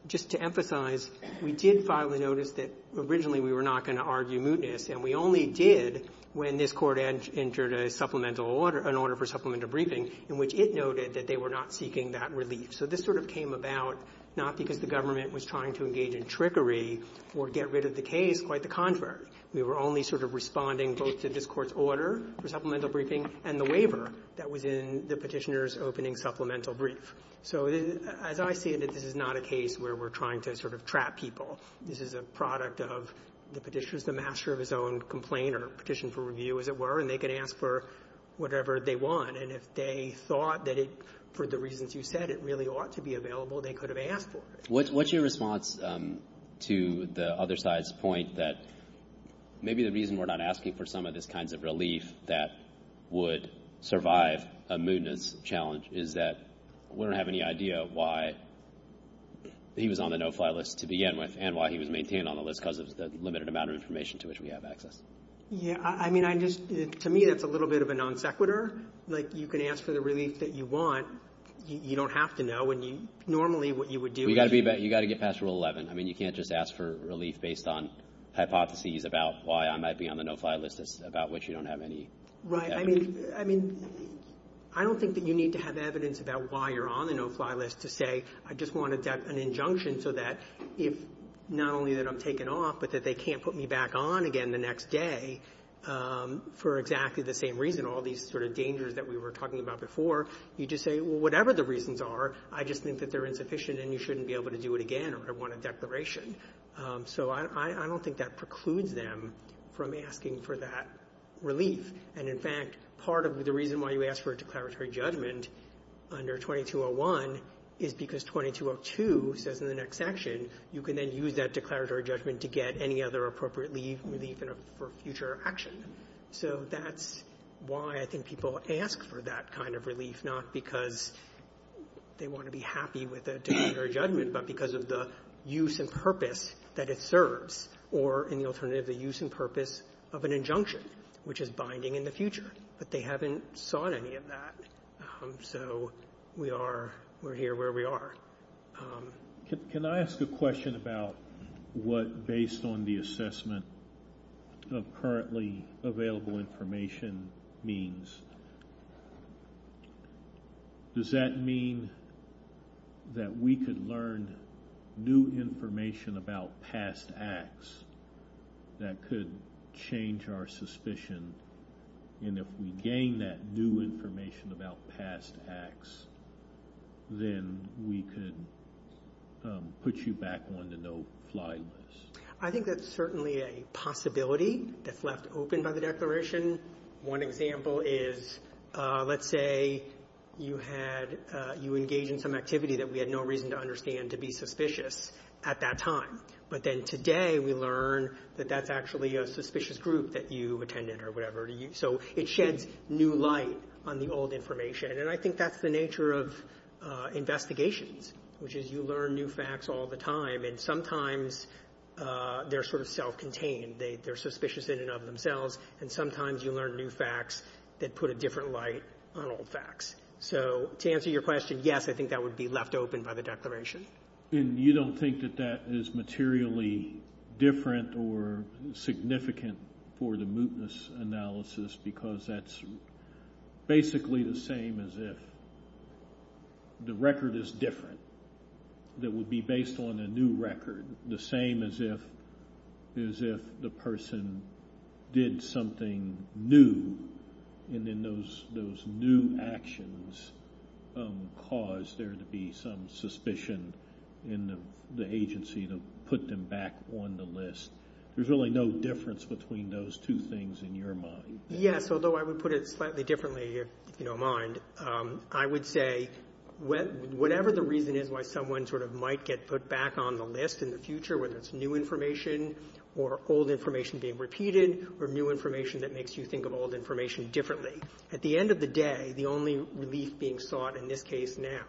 just to emphasize, we did finally notice that originally we were not going to argue mootness, and we only did when this court entered an order for supplemental briefing in which it noted that they were not seeking that relief. So this sort of came about not because the government was trying to engage in trickery or get rid of the case, quite the contrary. We were only sort of responding both to this court's order for supplemental briefing and the waiver that was in the petitioner's opening supplemental brief. So as I say, this is not a case where we're trying to sort of trap people. This is a product of the petitioner's, the master of his own complaint or petition for review, as it were, and they can ask for whatever they want. And if they thought that it, for the reasons you said, it really ought to be available, they could have asked for it. What's your response to the other side's point that maybe the reason we're not asking for some of these kinds of relief that would survive a mootness challenge is that we don't have any idea why he was on the no-fly list to begin with and why he was maintained on the list because of the limited amount of information to which we have access? Yeah, I mean, to me, it's a little bit of a non sequitur. Like, you can ask for the relief that you want. You don't have to know. You got to get past Rule 11. I mean, you can't just ask for relief based on hypotheses about why I might be on the no-fly list, about which you don't have any evidence. Right, I mean, I don't think that you need to have evidence about why you're on the no-fly list to say I just wanted an injunction so that not only that I'm taken off, but that they can't put me back on again the next day for exactly the same reason, all these sort of dangers that we were talking about before. You just say, well, whatever the reasons are, I just think that they're insufficient and you shouldn't be able to do it again or want a declaration. So I don't think that precludes them from asking for that relief. And in fact, part of the reason why you ask for a declaratory judgment under 2201 is because 2202 says in the next section you can then use that declaratory judgment to get any other appropriate relief for future actions. So that's why I think people ask for that kind of relief not because they want to be happy with a declaratory judgment, but because of the use and purpose that it serves or in the alternative, the use and purpose of an injunction, which is binding in the future. But they haven't sought any of that. So we are, we're here where we are. Can I ask a question about what, based on the assessment of currently available information, means, does that mean that we could learn new information about past acts that could change our suspicion? And if we gain that new information about past acts, then we could put you back on the no-fly list. I think that's certainly a possibility that's left open by the Declaration. One example is, let's say you engage in some activity that we had no reason to understand to be suspicious at that time. But then today we learn that that's actually a suspicious group that you attended or whatever. So it sheds new light on the old information. And I think that's the nature of investigations, which is you learn new facts all the time. And sometimes they're sort of self-contained. They're suspicious in and of themselves. And sometimes you learn new facts that put a different light on old facts. So to answer your question, yes, I think that would be left open by the Declaration. And you don't think that that is materially different or significant for the mootness analysis because that's basically the same as if the record is different, that would be based on a new record, the same as if the person did something new and then those new actions caused there to be some suspicion in the agency that put them back on the list. There's really no difference between those two things in your mind. Yes, although I would put it slightly differently, if you don't mind. I would say whatever the reason is why someone sort of might get put back on the list in the future, whether it's new information or old information being repeated or new information that makes you think of old information differently. At the end of the day, the only relief being sought in this case now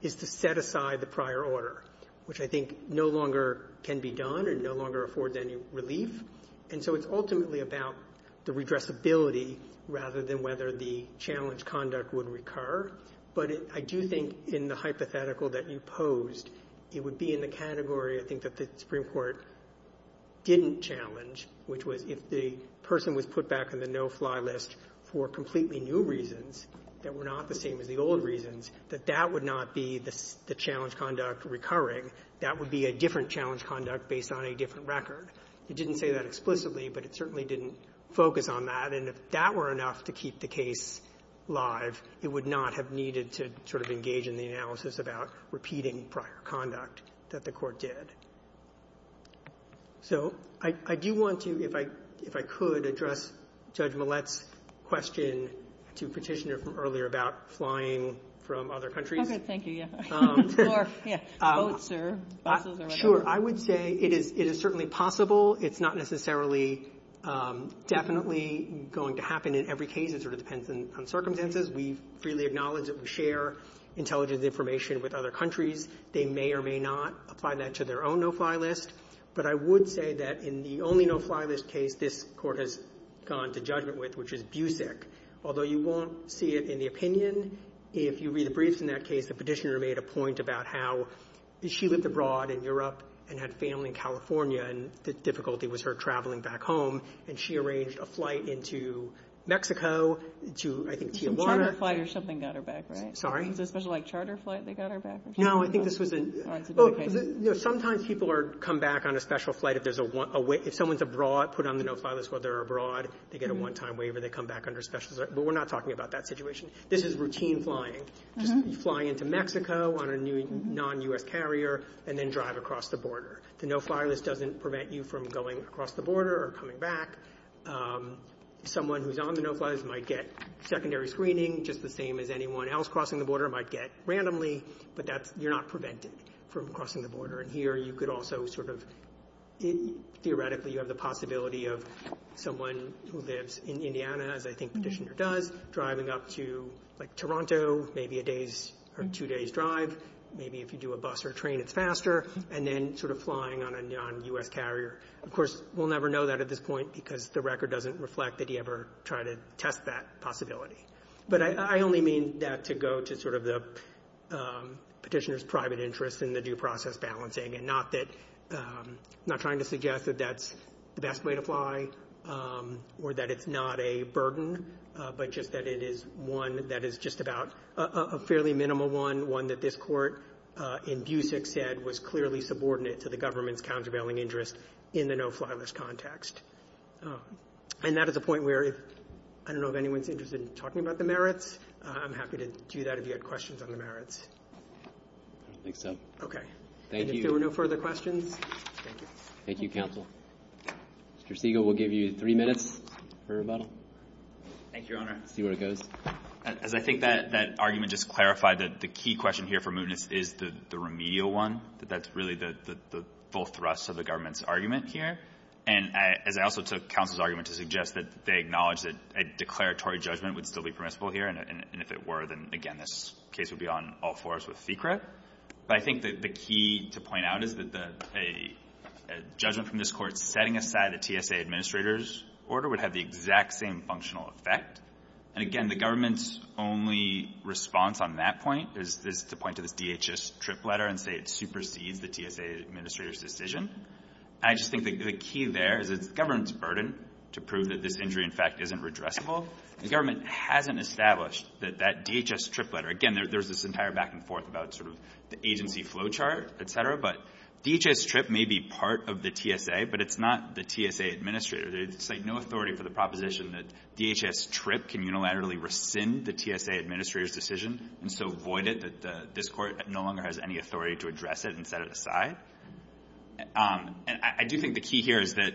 is to set aside the prior order, which I think no longer can be done and no longer affords any relief. And so it's ultimately about the regressibility rather than whether the challenge conduct would recur. But I do think in the hypothetical that you posed, it would be in the category, I think, that the Supreme Court didn't challenge, which was if the person was put back on the no-fly list for completely new reasons that were not the same as the old reasons, that that would not be the challenge conduct recurring. That would be a different challenge conduct based on a different record. It didn't say that explicitly, but it certainly didn't focus on that. And if that were enough to keep the case live, it would not have needed to sort of engage in the analysis about repeating prior conduct that the court did. So I do want to, if I could, address Judge Millett's question to Petitioner from earlier about flying from other countries. Okay, thank you, yeah. Or, yeah, boats or buses or whatever. Sure, I would say it is certainly possible. It's not necessarily definitely going to happen in every case. It sort of depends on circumstances. We freely acknowledge that we share intelligence information with other countries. They may or may not apply that to their own no-fly list. But I would say that in the only no-fly list case this court has gone to judgment with, which is Busick. Although you won't see it in the opinion, if you read the briefs in that case, the petitioner made a point about how she lived abroad in Europe and had family in California, and the difficulty was her traveling back home. And she arranged a flight into Mexico, to, I think, Tijuana. A charter flight or something got her back, right? Sorry? Was it a charter flight that got her back? No, I think this would be, sometimes people come back on a special flight if there's a, if someone's abroad, put on the no-fly list while they're abroad, they get a one-time waiver, they come back under special, but we're not talking about that situation. This is routine flying. You fly into Mexico on a non-U.S. carrier and then drive across the border. The no-fly list doesn't prevent you from going across the border or coming back. Someone who's on the no-fly list might get secondary screening, just the same as anyone else crossing the border, might get randomly, but that's, you're not prevented from crossing the border. And here, you could also sort of, theoretically, you have the possibility of someone who lives in Indiana, as I think the petitioner does, driving up to, like, Toronto, maybe a day's or two-day's drive. Maybe if you do a bus or train, it's faster. And then sort of flying on a non-U.S. carrier. Of course, we'll never know that at this point because the record doesn't reflect that you ever try to test that possibility. But I only mean that to go to sort of the petitioner's private interest in the due process balancing and not that, not trying to suggest that that's the best way to fly or that it's not a burden, but just that it is one that is just about a fairly minimal one, one that this court in DUSIC said was clearly subordinate to the government's And that is the point where, I don't know if anyone's interested in talking about the merits. I'm happy to do that if you have questions on the merits. I think so. Okay. Thank you. And if there were no further questions, thank you. Thank you, counsel. Mr. Stegall, we'll give you three minutes for rebuttal. Thank you, Your Honor. See where it goes. As I think that argument just clarified that the key question here for movements is the remedial one, that that's really the full thrust of the government's argument here. And I also took counsel's argument to suggest that they acknowledge that a declaratory judgment would still be permissible here. And if it were, then again, this case would be on all four of us with secret. But I think that the key to point out is that a judgment from this court setting aside a TSA administrator's order would have the exact same functional effect. And again, the government's only response on that point is to point to the DHS trip letter and say it supersedes the TSA administrator's decision. I just think that the key there is the government's burden to prove that this injury, in fact, isn't redressable. The government hasn't established that that DHS trip letter, again, there's this entire back and forth about sort of the agency flow chart, et cetera, but DHS trip may be part of the TSA, but it's not the TSA administrator. There's no authority for the proposition that DHS trip can unilaterally rescind the TSA administrator's decision and so void it that this court no longer has any authority to address it and set it aside. I do think the key here is that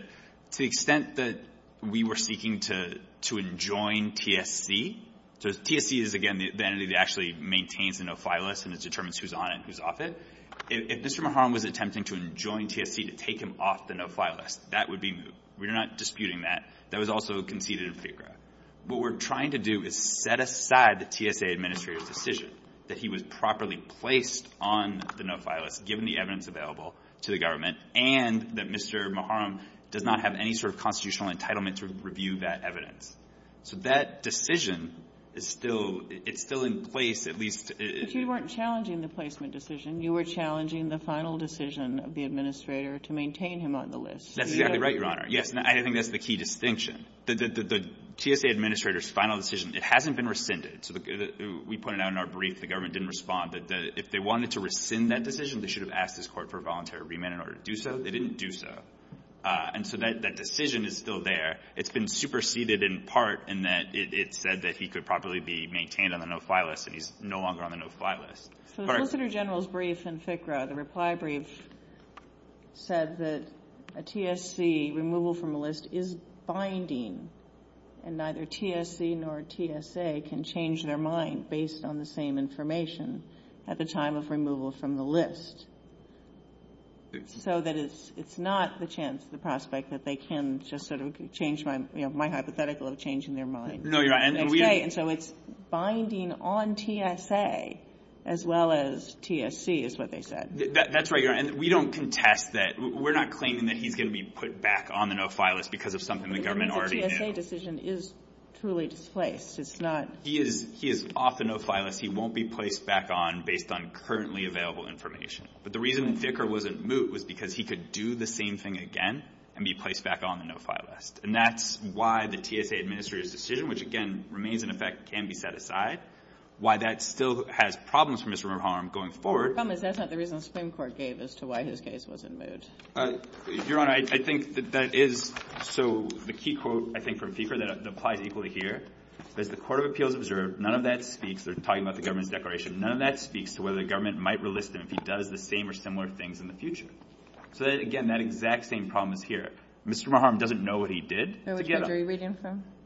to the extent that we were seeking to enjoin TSC, so TSC is, again, the entity that actually maintains the no-file list and it determines who's on it and who's off it. If Mr. Maharm was attempting to enjoin TSC to take him off the no-file list, that would be, we're not disputing that. That was also conceded in pre-trial. What we're trying to do is set aside the TSA administrator's decision that he was properly placed on the no-file list given the evidence available to the government and that Mr. Maharm does not have any sort of constitutional entitlement to review that evidence. So that decision is still in place, at least. If you weren't challenging the placement decision, you were challenging the final decision of the administrator to maintain him on the list. That's exactly right, Your Honor. I think that's the key distinction. The TSA administrator's final decision, it hasn't been rescinded. We put it out in our brief, the government didn't respond, but if they wanted to rescind that decision, they should have asked this court for a voluntary remand in order to do so. They didn't do so. And so that decision is still there. It's been superseded in part in that it said that he could properly be maintained on the no-file list, and he's no longer on the no-file list. For the solicitor general's brief in FCRA, the reply brief said that a TSC removal from a list is binding and neither TSC nor TSA can change their mind based on the same information at the time of removal from the list. So it's not the prospect that they can just sort of change my hypothetical of changing their mind. No, Your Honor. And so it's binding on TSA as well as TSC is what they said. That's right, Your Honor. And we don't contest that. We're not claiming that he's going to be put back on the no-file list because of something the government already did. The TSA decision is truly displaced. It's not... He is off the no-file list. He won't be placed back on based on currently available information. But the reason Dicker wasn't moved was because he could do the same thing again and be placed back on the no-file list. And that's why the TSA administrator's decision, which, again, remains in effect, can be set aside. Why that still has problems for Mr. Mohorovic going forward... Your comment is that's not the reason the Supreme Court gave as to why his case wasn't moved. Your Honor, I think that that is... So the key quote, I think, from FCRA that applies equally here that the Court of Appeals observed none of that speech that they're talking about the government declaration, none of that speaks to whether the government might release him if he does the same or similar things in the future. So, again, that exact same problem is here. Mr. Mohorovic doesn't know what he did.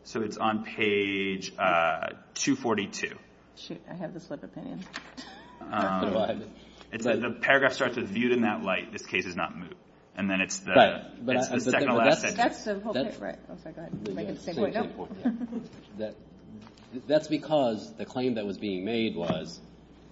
So it's on page 242. Shoot, I have this other thing in. It says, the paragraph starts with viewed in that light. This case is not moved. And then it's the... Right. That's the whole thing. Go ahead. That's because the claim that was being made was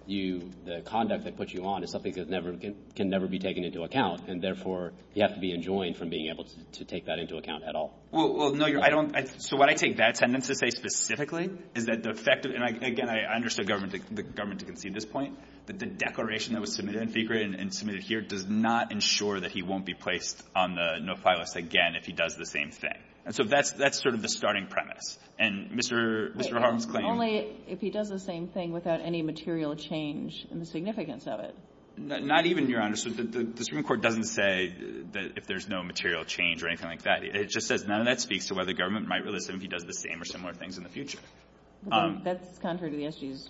the conduct that puts you on is something that can never be taken into account. And therefore, you have to be enjoined from being able to take that into account at all. Well, no, I don't... So what I take that sentence to say specifically is that the fact that... And, again, I understand the government didn't see this point. But the declaration that was submitted in FCRA and submitted here does not ensure that he won't be placed on the no-file list again if he does the same thing. And so that's sort of the starting premise. And Mr. Hogg's claim... Only if he does the same thing without any material change in the significance of it. Not even, Your Honor. The Supreme Court doesn't say that if there's no material change or anything like that. It just says none of that speaks to whether the government might release him if he does the same or similar things in the future. That's contrary to the issues.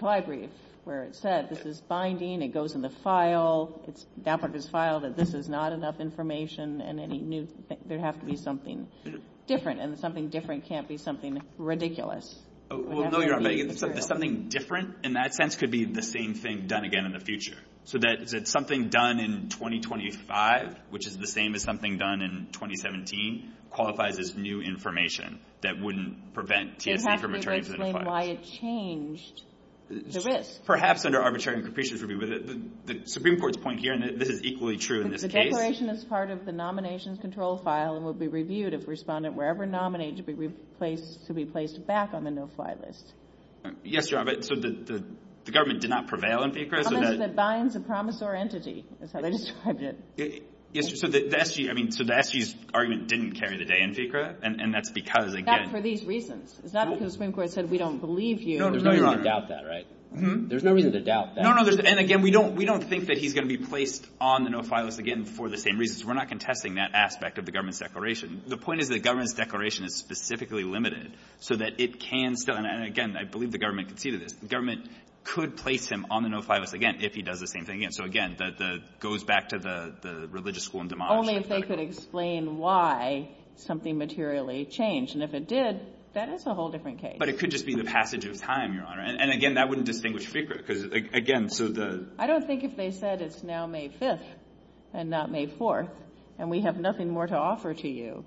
So I agree with where it's said. This is binding. It goes in the file. It's down under the file that this is not enough information and any new... There has to be something different. And something different can't be something ridiculous. Well, no, Your Honor. Something different in that sense could be the same thing done again in the future. So that something done in 2025, which is the same as something done in 2017, qualifies as new information that wouldn't prevent... It has to explain why it changed the risk. Perhaps under arbitrary conditions would be... The Supreme Court's point here, and this is equally true in this case... The declaration is part of the nomination control file and will be reviewed if the respondent wherever nominated to be placed back on the no-fly list. Yes, Your Honor, but the government did not prevail on FICRA. It binds a promisor entity. That's how they described it. Yes, Your Honor. So that argument didn't carry the day in FICRA, and that's because, again... That's for these reasons. It's not because the Supreme Court said we don't believe you. There's no reason to doubt that, right? There's no reason to doubt that. No, no. And again, we don't think that he's going to be placed on the no-fly list again for the same reasons. We're not contesting that aspect of the government's declaration. The point is the government's declaration is specifically limited so that it can fill in. And again, I believe the government conceded it. The government could place him on the no-fly list again if he does the same thing again. So again, that goes back to the religious school and the model. Only if they could explain why something materially changed, and if it did, that is a whole different case. But it could just be the passage of time, Your Honor, and again, that wouldn't distinguish FICRA because, again, so the... I don't think if they said it's now May 5th and not May 4th, and we have nothing more to offer to you,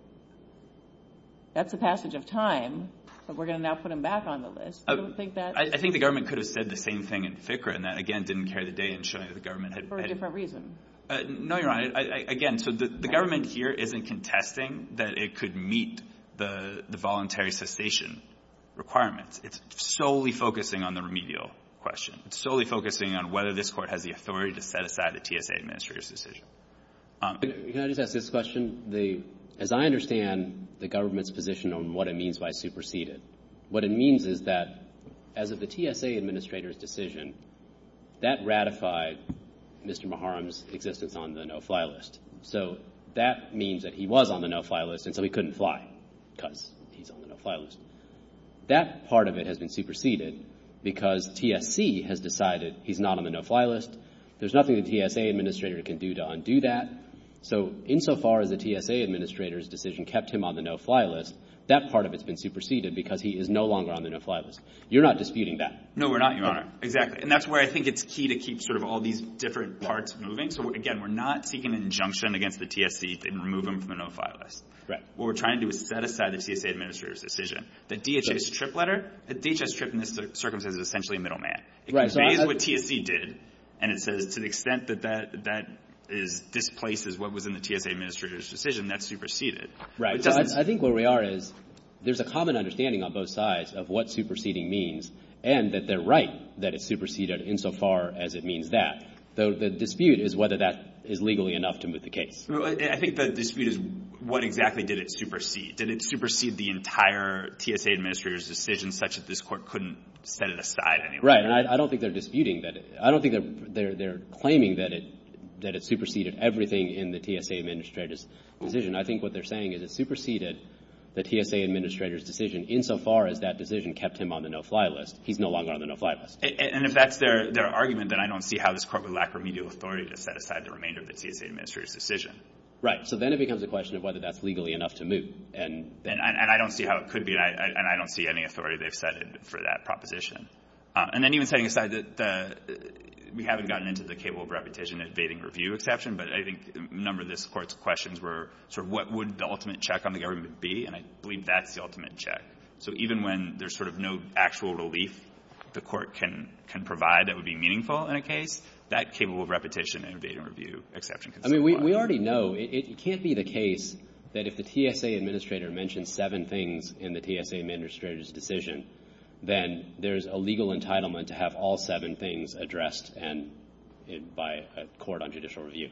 that's the passage of time, but we're going to now put him back on the list. I don't think that... I think the government could have said the same thing in FICRA and that, again, didn't carry the day in showing that the government... For a different reason. No, Your Honor. Again, so the government here isn't contesting that it could meet the voluntary cessation requirements. It's solely focusing on the remedial question. It's solely focusing on whether this court has the authority to set aside the TSA administrator's decision. Can I just ask this question? As I understand the government's position on what it means by superseded, what it means is that as of the TSA administrator's decision, that ratified Mr. Muharrem's existence on the no-fly list. So that means that he was on the no-fly list until he couldn't fly because he's on the no-fly list. That part of it has been superseded because TSC has decided he's not on the no-fly list. There's nothing the TSA administrator can do to undo that. So insofar as the TSA administrator's decision kept him on the no-fly list, that part of it has been superseded because he is no longer on the no-fly list. You're not disputing that? No, we're not, Your Honor. Exactly. And that's why I think it's key to keep sort of all these different parts moving. So again, we're not seeking an injunction against the TSC to remove him from the no-fly list. What we're trying to do is set aside the TSA administrator's decision. The DHS trip letter, the DHS trip in this circumstance is essentially middleman. Right. It conveys what TSC did and to the extent that that displaces what was in the TSA administrator's decision, that's superseded. Right. I think where we are is there's a common understanding on both sides of what superseding means and that they're right that it's superseded insofar as it means that. So the dispute is whether that is legally enough to move the case. I think the dispute is what exactly did it supersede. Did it supersede the entire TSA administrator's decision such that this court couldn't set it aside for that proposition? And I don't think they're disputing that. I don't think they're claiming that it superseded everything in the TSA administrator's decision. I think what they're saying is it superseded the TSA administrator's decision insofar as that decision kept him on the no-fly list. He's no longer on the no-fly list. And if that's their argument then I don't see how this court would lack remedial authority to set aside the remainder of the TSA administrator's decision. Right. So then it becomes a question of whether that's legally enough to move. And I don't see how it could be and I don't see any authority they've set for that proposition. And then even setting aside that we haven't gotten into the capable of repetition invading review exception but I think a number of this court's questions were sort of what would the ultimate check on the government be and I believe that's the ultimate check. So even when there's sort of no actual relief the court can provide that would be meaningful in a case that capable of repetition invading review exception can still apply. I mean we already know it can't be the case that if the TSA administrator mentions seven things in the TSA administrator's decision then there's a legal entitlement to have all seven things addressed by a court on judicial review.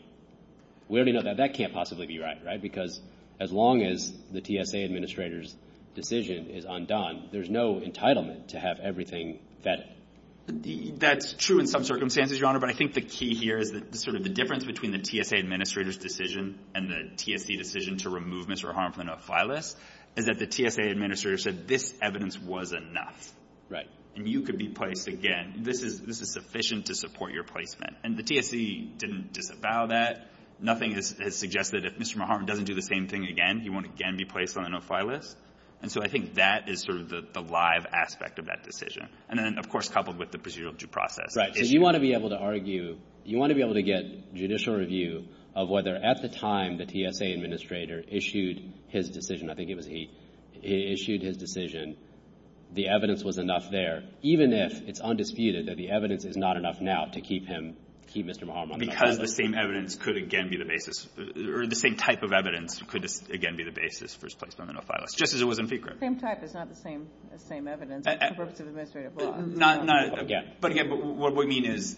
We already know that that can't possibly be right right because as long as the TSA administrator's decision is undone there's no entitlement to have everything that... That's true in some circumstances Your Honor but I think the key here is sort of the difference between the TSA administrator's decision and the TSA decision to remove Mr. Harmon from the no-fly list is that the TSA administrator said this evidence was enough. Right. And you could be placed again this is sufficient to support your placement and the TSA didn't disavow that nothing has suggested if Mr. Harmon doesn't do the same thing again he won't again be placed on the no-fly list and so I think that is sort of the live aspect of that decision and then of course coupled with the procedural due process. Right. You want to be able to argue you want to be able to get judicial review of whether at the time the TSA administrator issued his decision I think it was he issued his decision the evidence was enough there even if it's undisputed that the evidence is not enough now to keep him keep Mr. Harmon on the no-fly list. Because the same evidence could again be the basis or the same type of evidence could again be the basis for his placement on the no-fly list just as it was in secret. The same type is not the same evidence it's supposed to be administrative law. Not but again what we mean is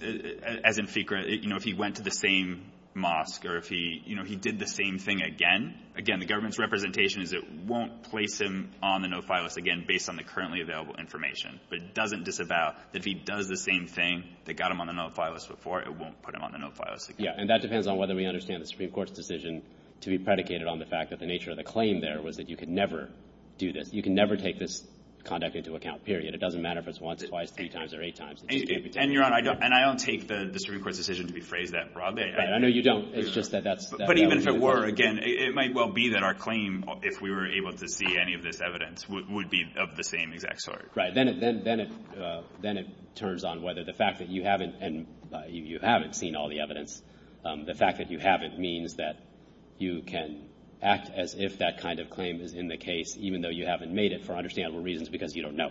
as in secret you know if he went to the same mosque or if he you know he did the same thing again again the government's representation is it won't place him on the no-fly list again based on the currently available information. It doesn't disavow if he does the same thing that got him on the no-fly list before it won't put him on the no-fly list again. Yeah and that depends on whether we understand the Supreme Court's decision to be predicated on the fact that the nature of the claim there was that you could never do this you can never take this conduct into account period. It doesn't matter if it's once it's twice three times or eight times. And Your Honor and I don't take the Supreme Court's decision to be phrased that broadly. I know you don't it's just that that's But even if it were again it might well be that our claim if we were able to see any of this evidence would be of the same exact sort. Right. Then it turns on whether the fact that you haven't and you haven't seen all the evidence the fact that you haven't means that you can act as if that kind of claim is in the case even though you haven't made it for understandable reasons because you don't know.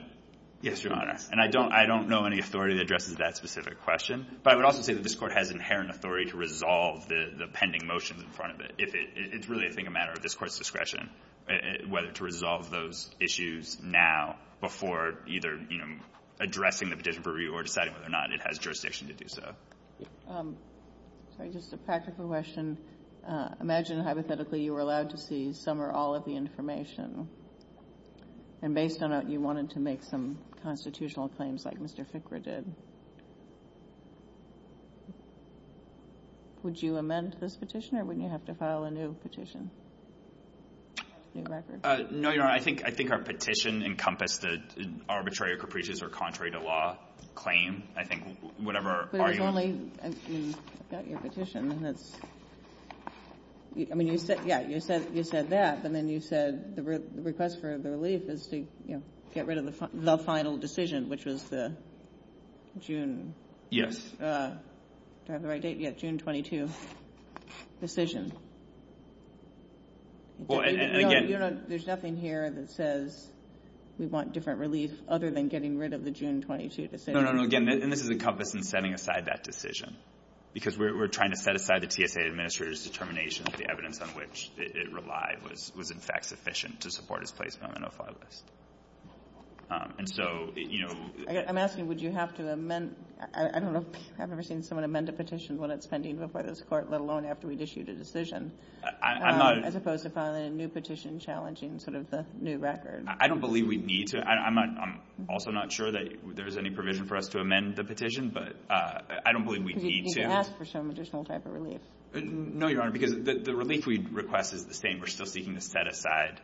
Yes Your Honor and I don't I don't know any authority that addresses that specific question but I would also say that this court has inherent authority to resolve the pending motions in front of it if it's really I think a matter of this court's discretion whether to resolve those issues now before either addressing the petition for review or deciding whether or not it has jurisdiction to do so. Just a practical question. Imagine hypothetically you were allowed to see some or all of the information and based on that you wanted to make some constitutional claims like Mr. Fickra did. Would you amend this petition or would you have to file a new petition? No Your Honor I think our petition encompassed the arbitrary or capricious or contrary to law claim. I think whatever There's only in your petition that's I mean you said yeah you said you said that and then you said the request for the relief is to get rid of the final decision which was the June Yes Do I have the right date yet? June 22 decision. Well and again There's nothing here that says we want different relief other than getting rid of the June 22 decision. No no no again this is encompassing setting aside that decision because we're trying to set aside the CSA Administrator's determination that the evidence on which it relied was in fact sufficient to support his place on the no-fly list. And so you know I'm asking would you have to amend I don't know if you've ever seen someone amend a petition when it's pending before this court let alone after we'd issued a decision. I'm not As opposed to filing a new petition challenging sort of the new record. I don't believe we need to I'm also not sure that there's any provision for us to amend the petition but I don't believe we need to You could ask for some additional type of relief. No Your Honor because the relief we requested is the same. We're still seeking to set aside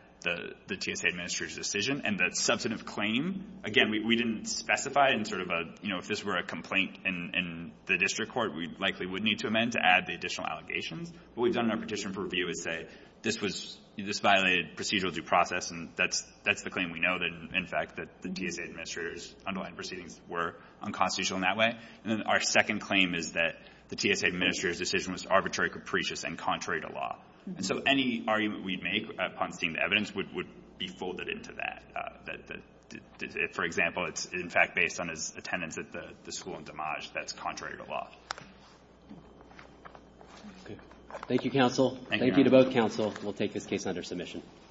the TSA Administrator's decision and the substantive claim again we didn't specify in sort of a you know if this were a complaint in the district court we likely would need to amend to add the additional allegation. What we've done in our petition for review is say this violated procedural due process and that's the claim we know that in fact that the TSA Administrator's unaligned proceedings were unconstitutional in that way. And then our second claim is that the TSA Administrator's decision was arbitrary capricious and contrary to law. And so any argument we'd make upon seeing the evidence would be folded into that. For example it's in fact based on his attendance at the school in Damage that's contrary to law. Thank you counsel. Thank you to both counsel. We'll take this case under submission.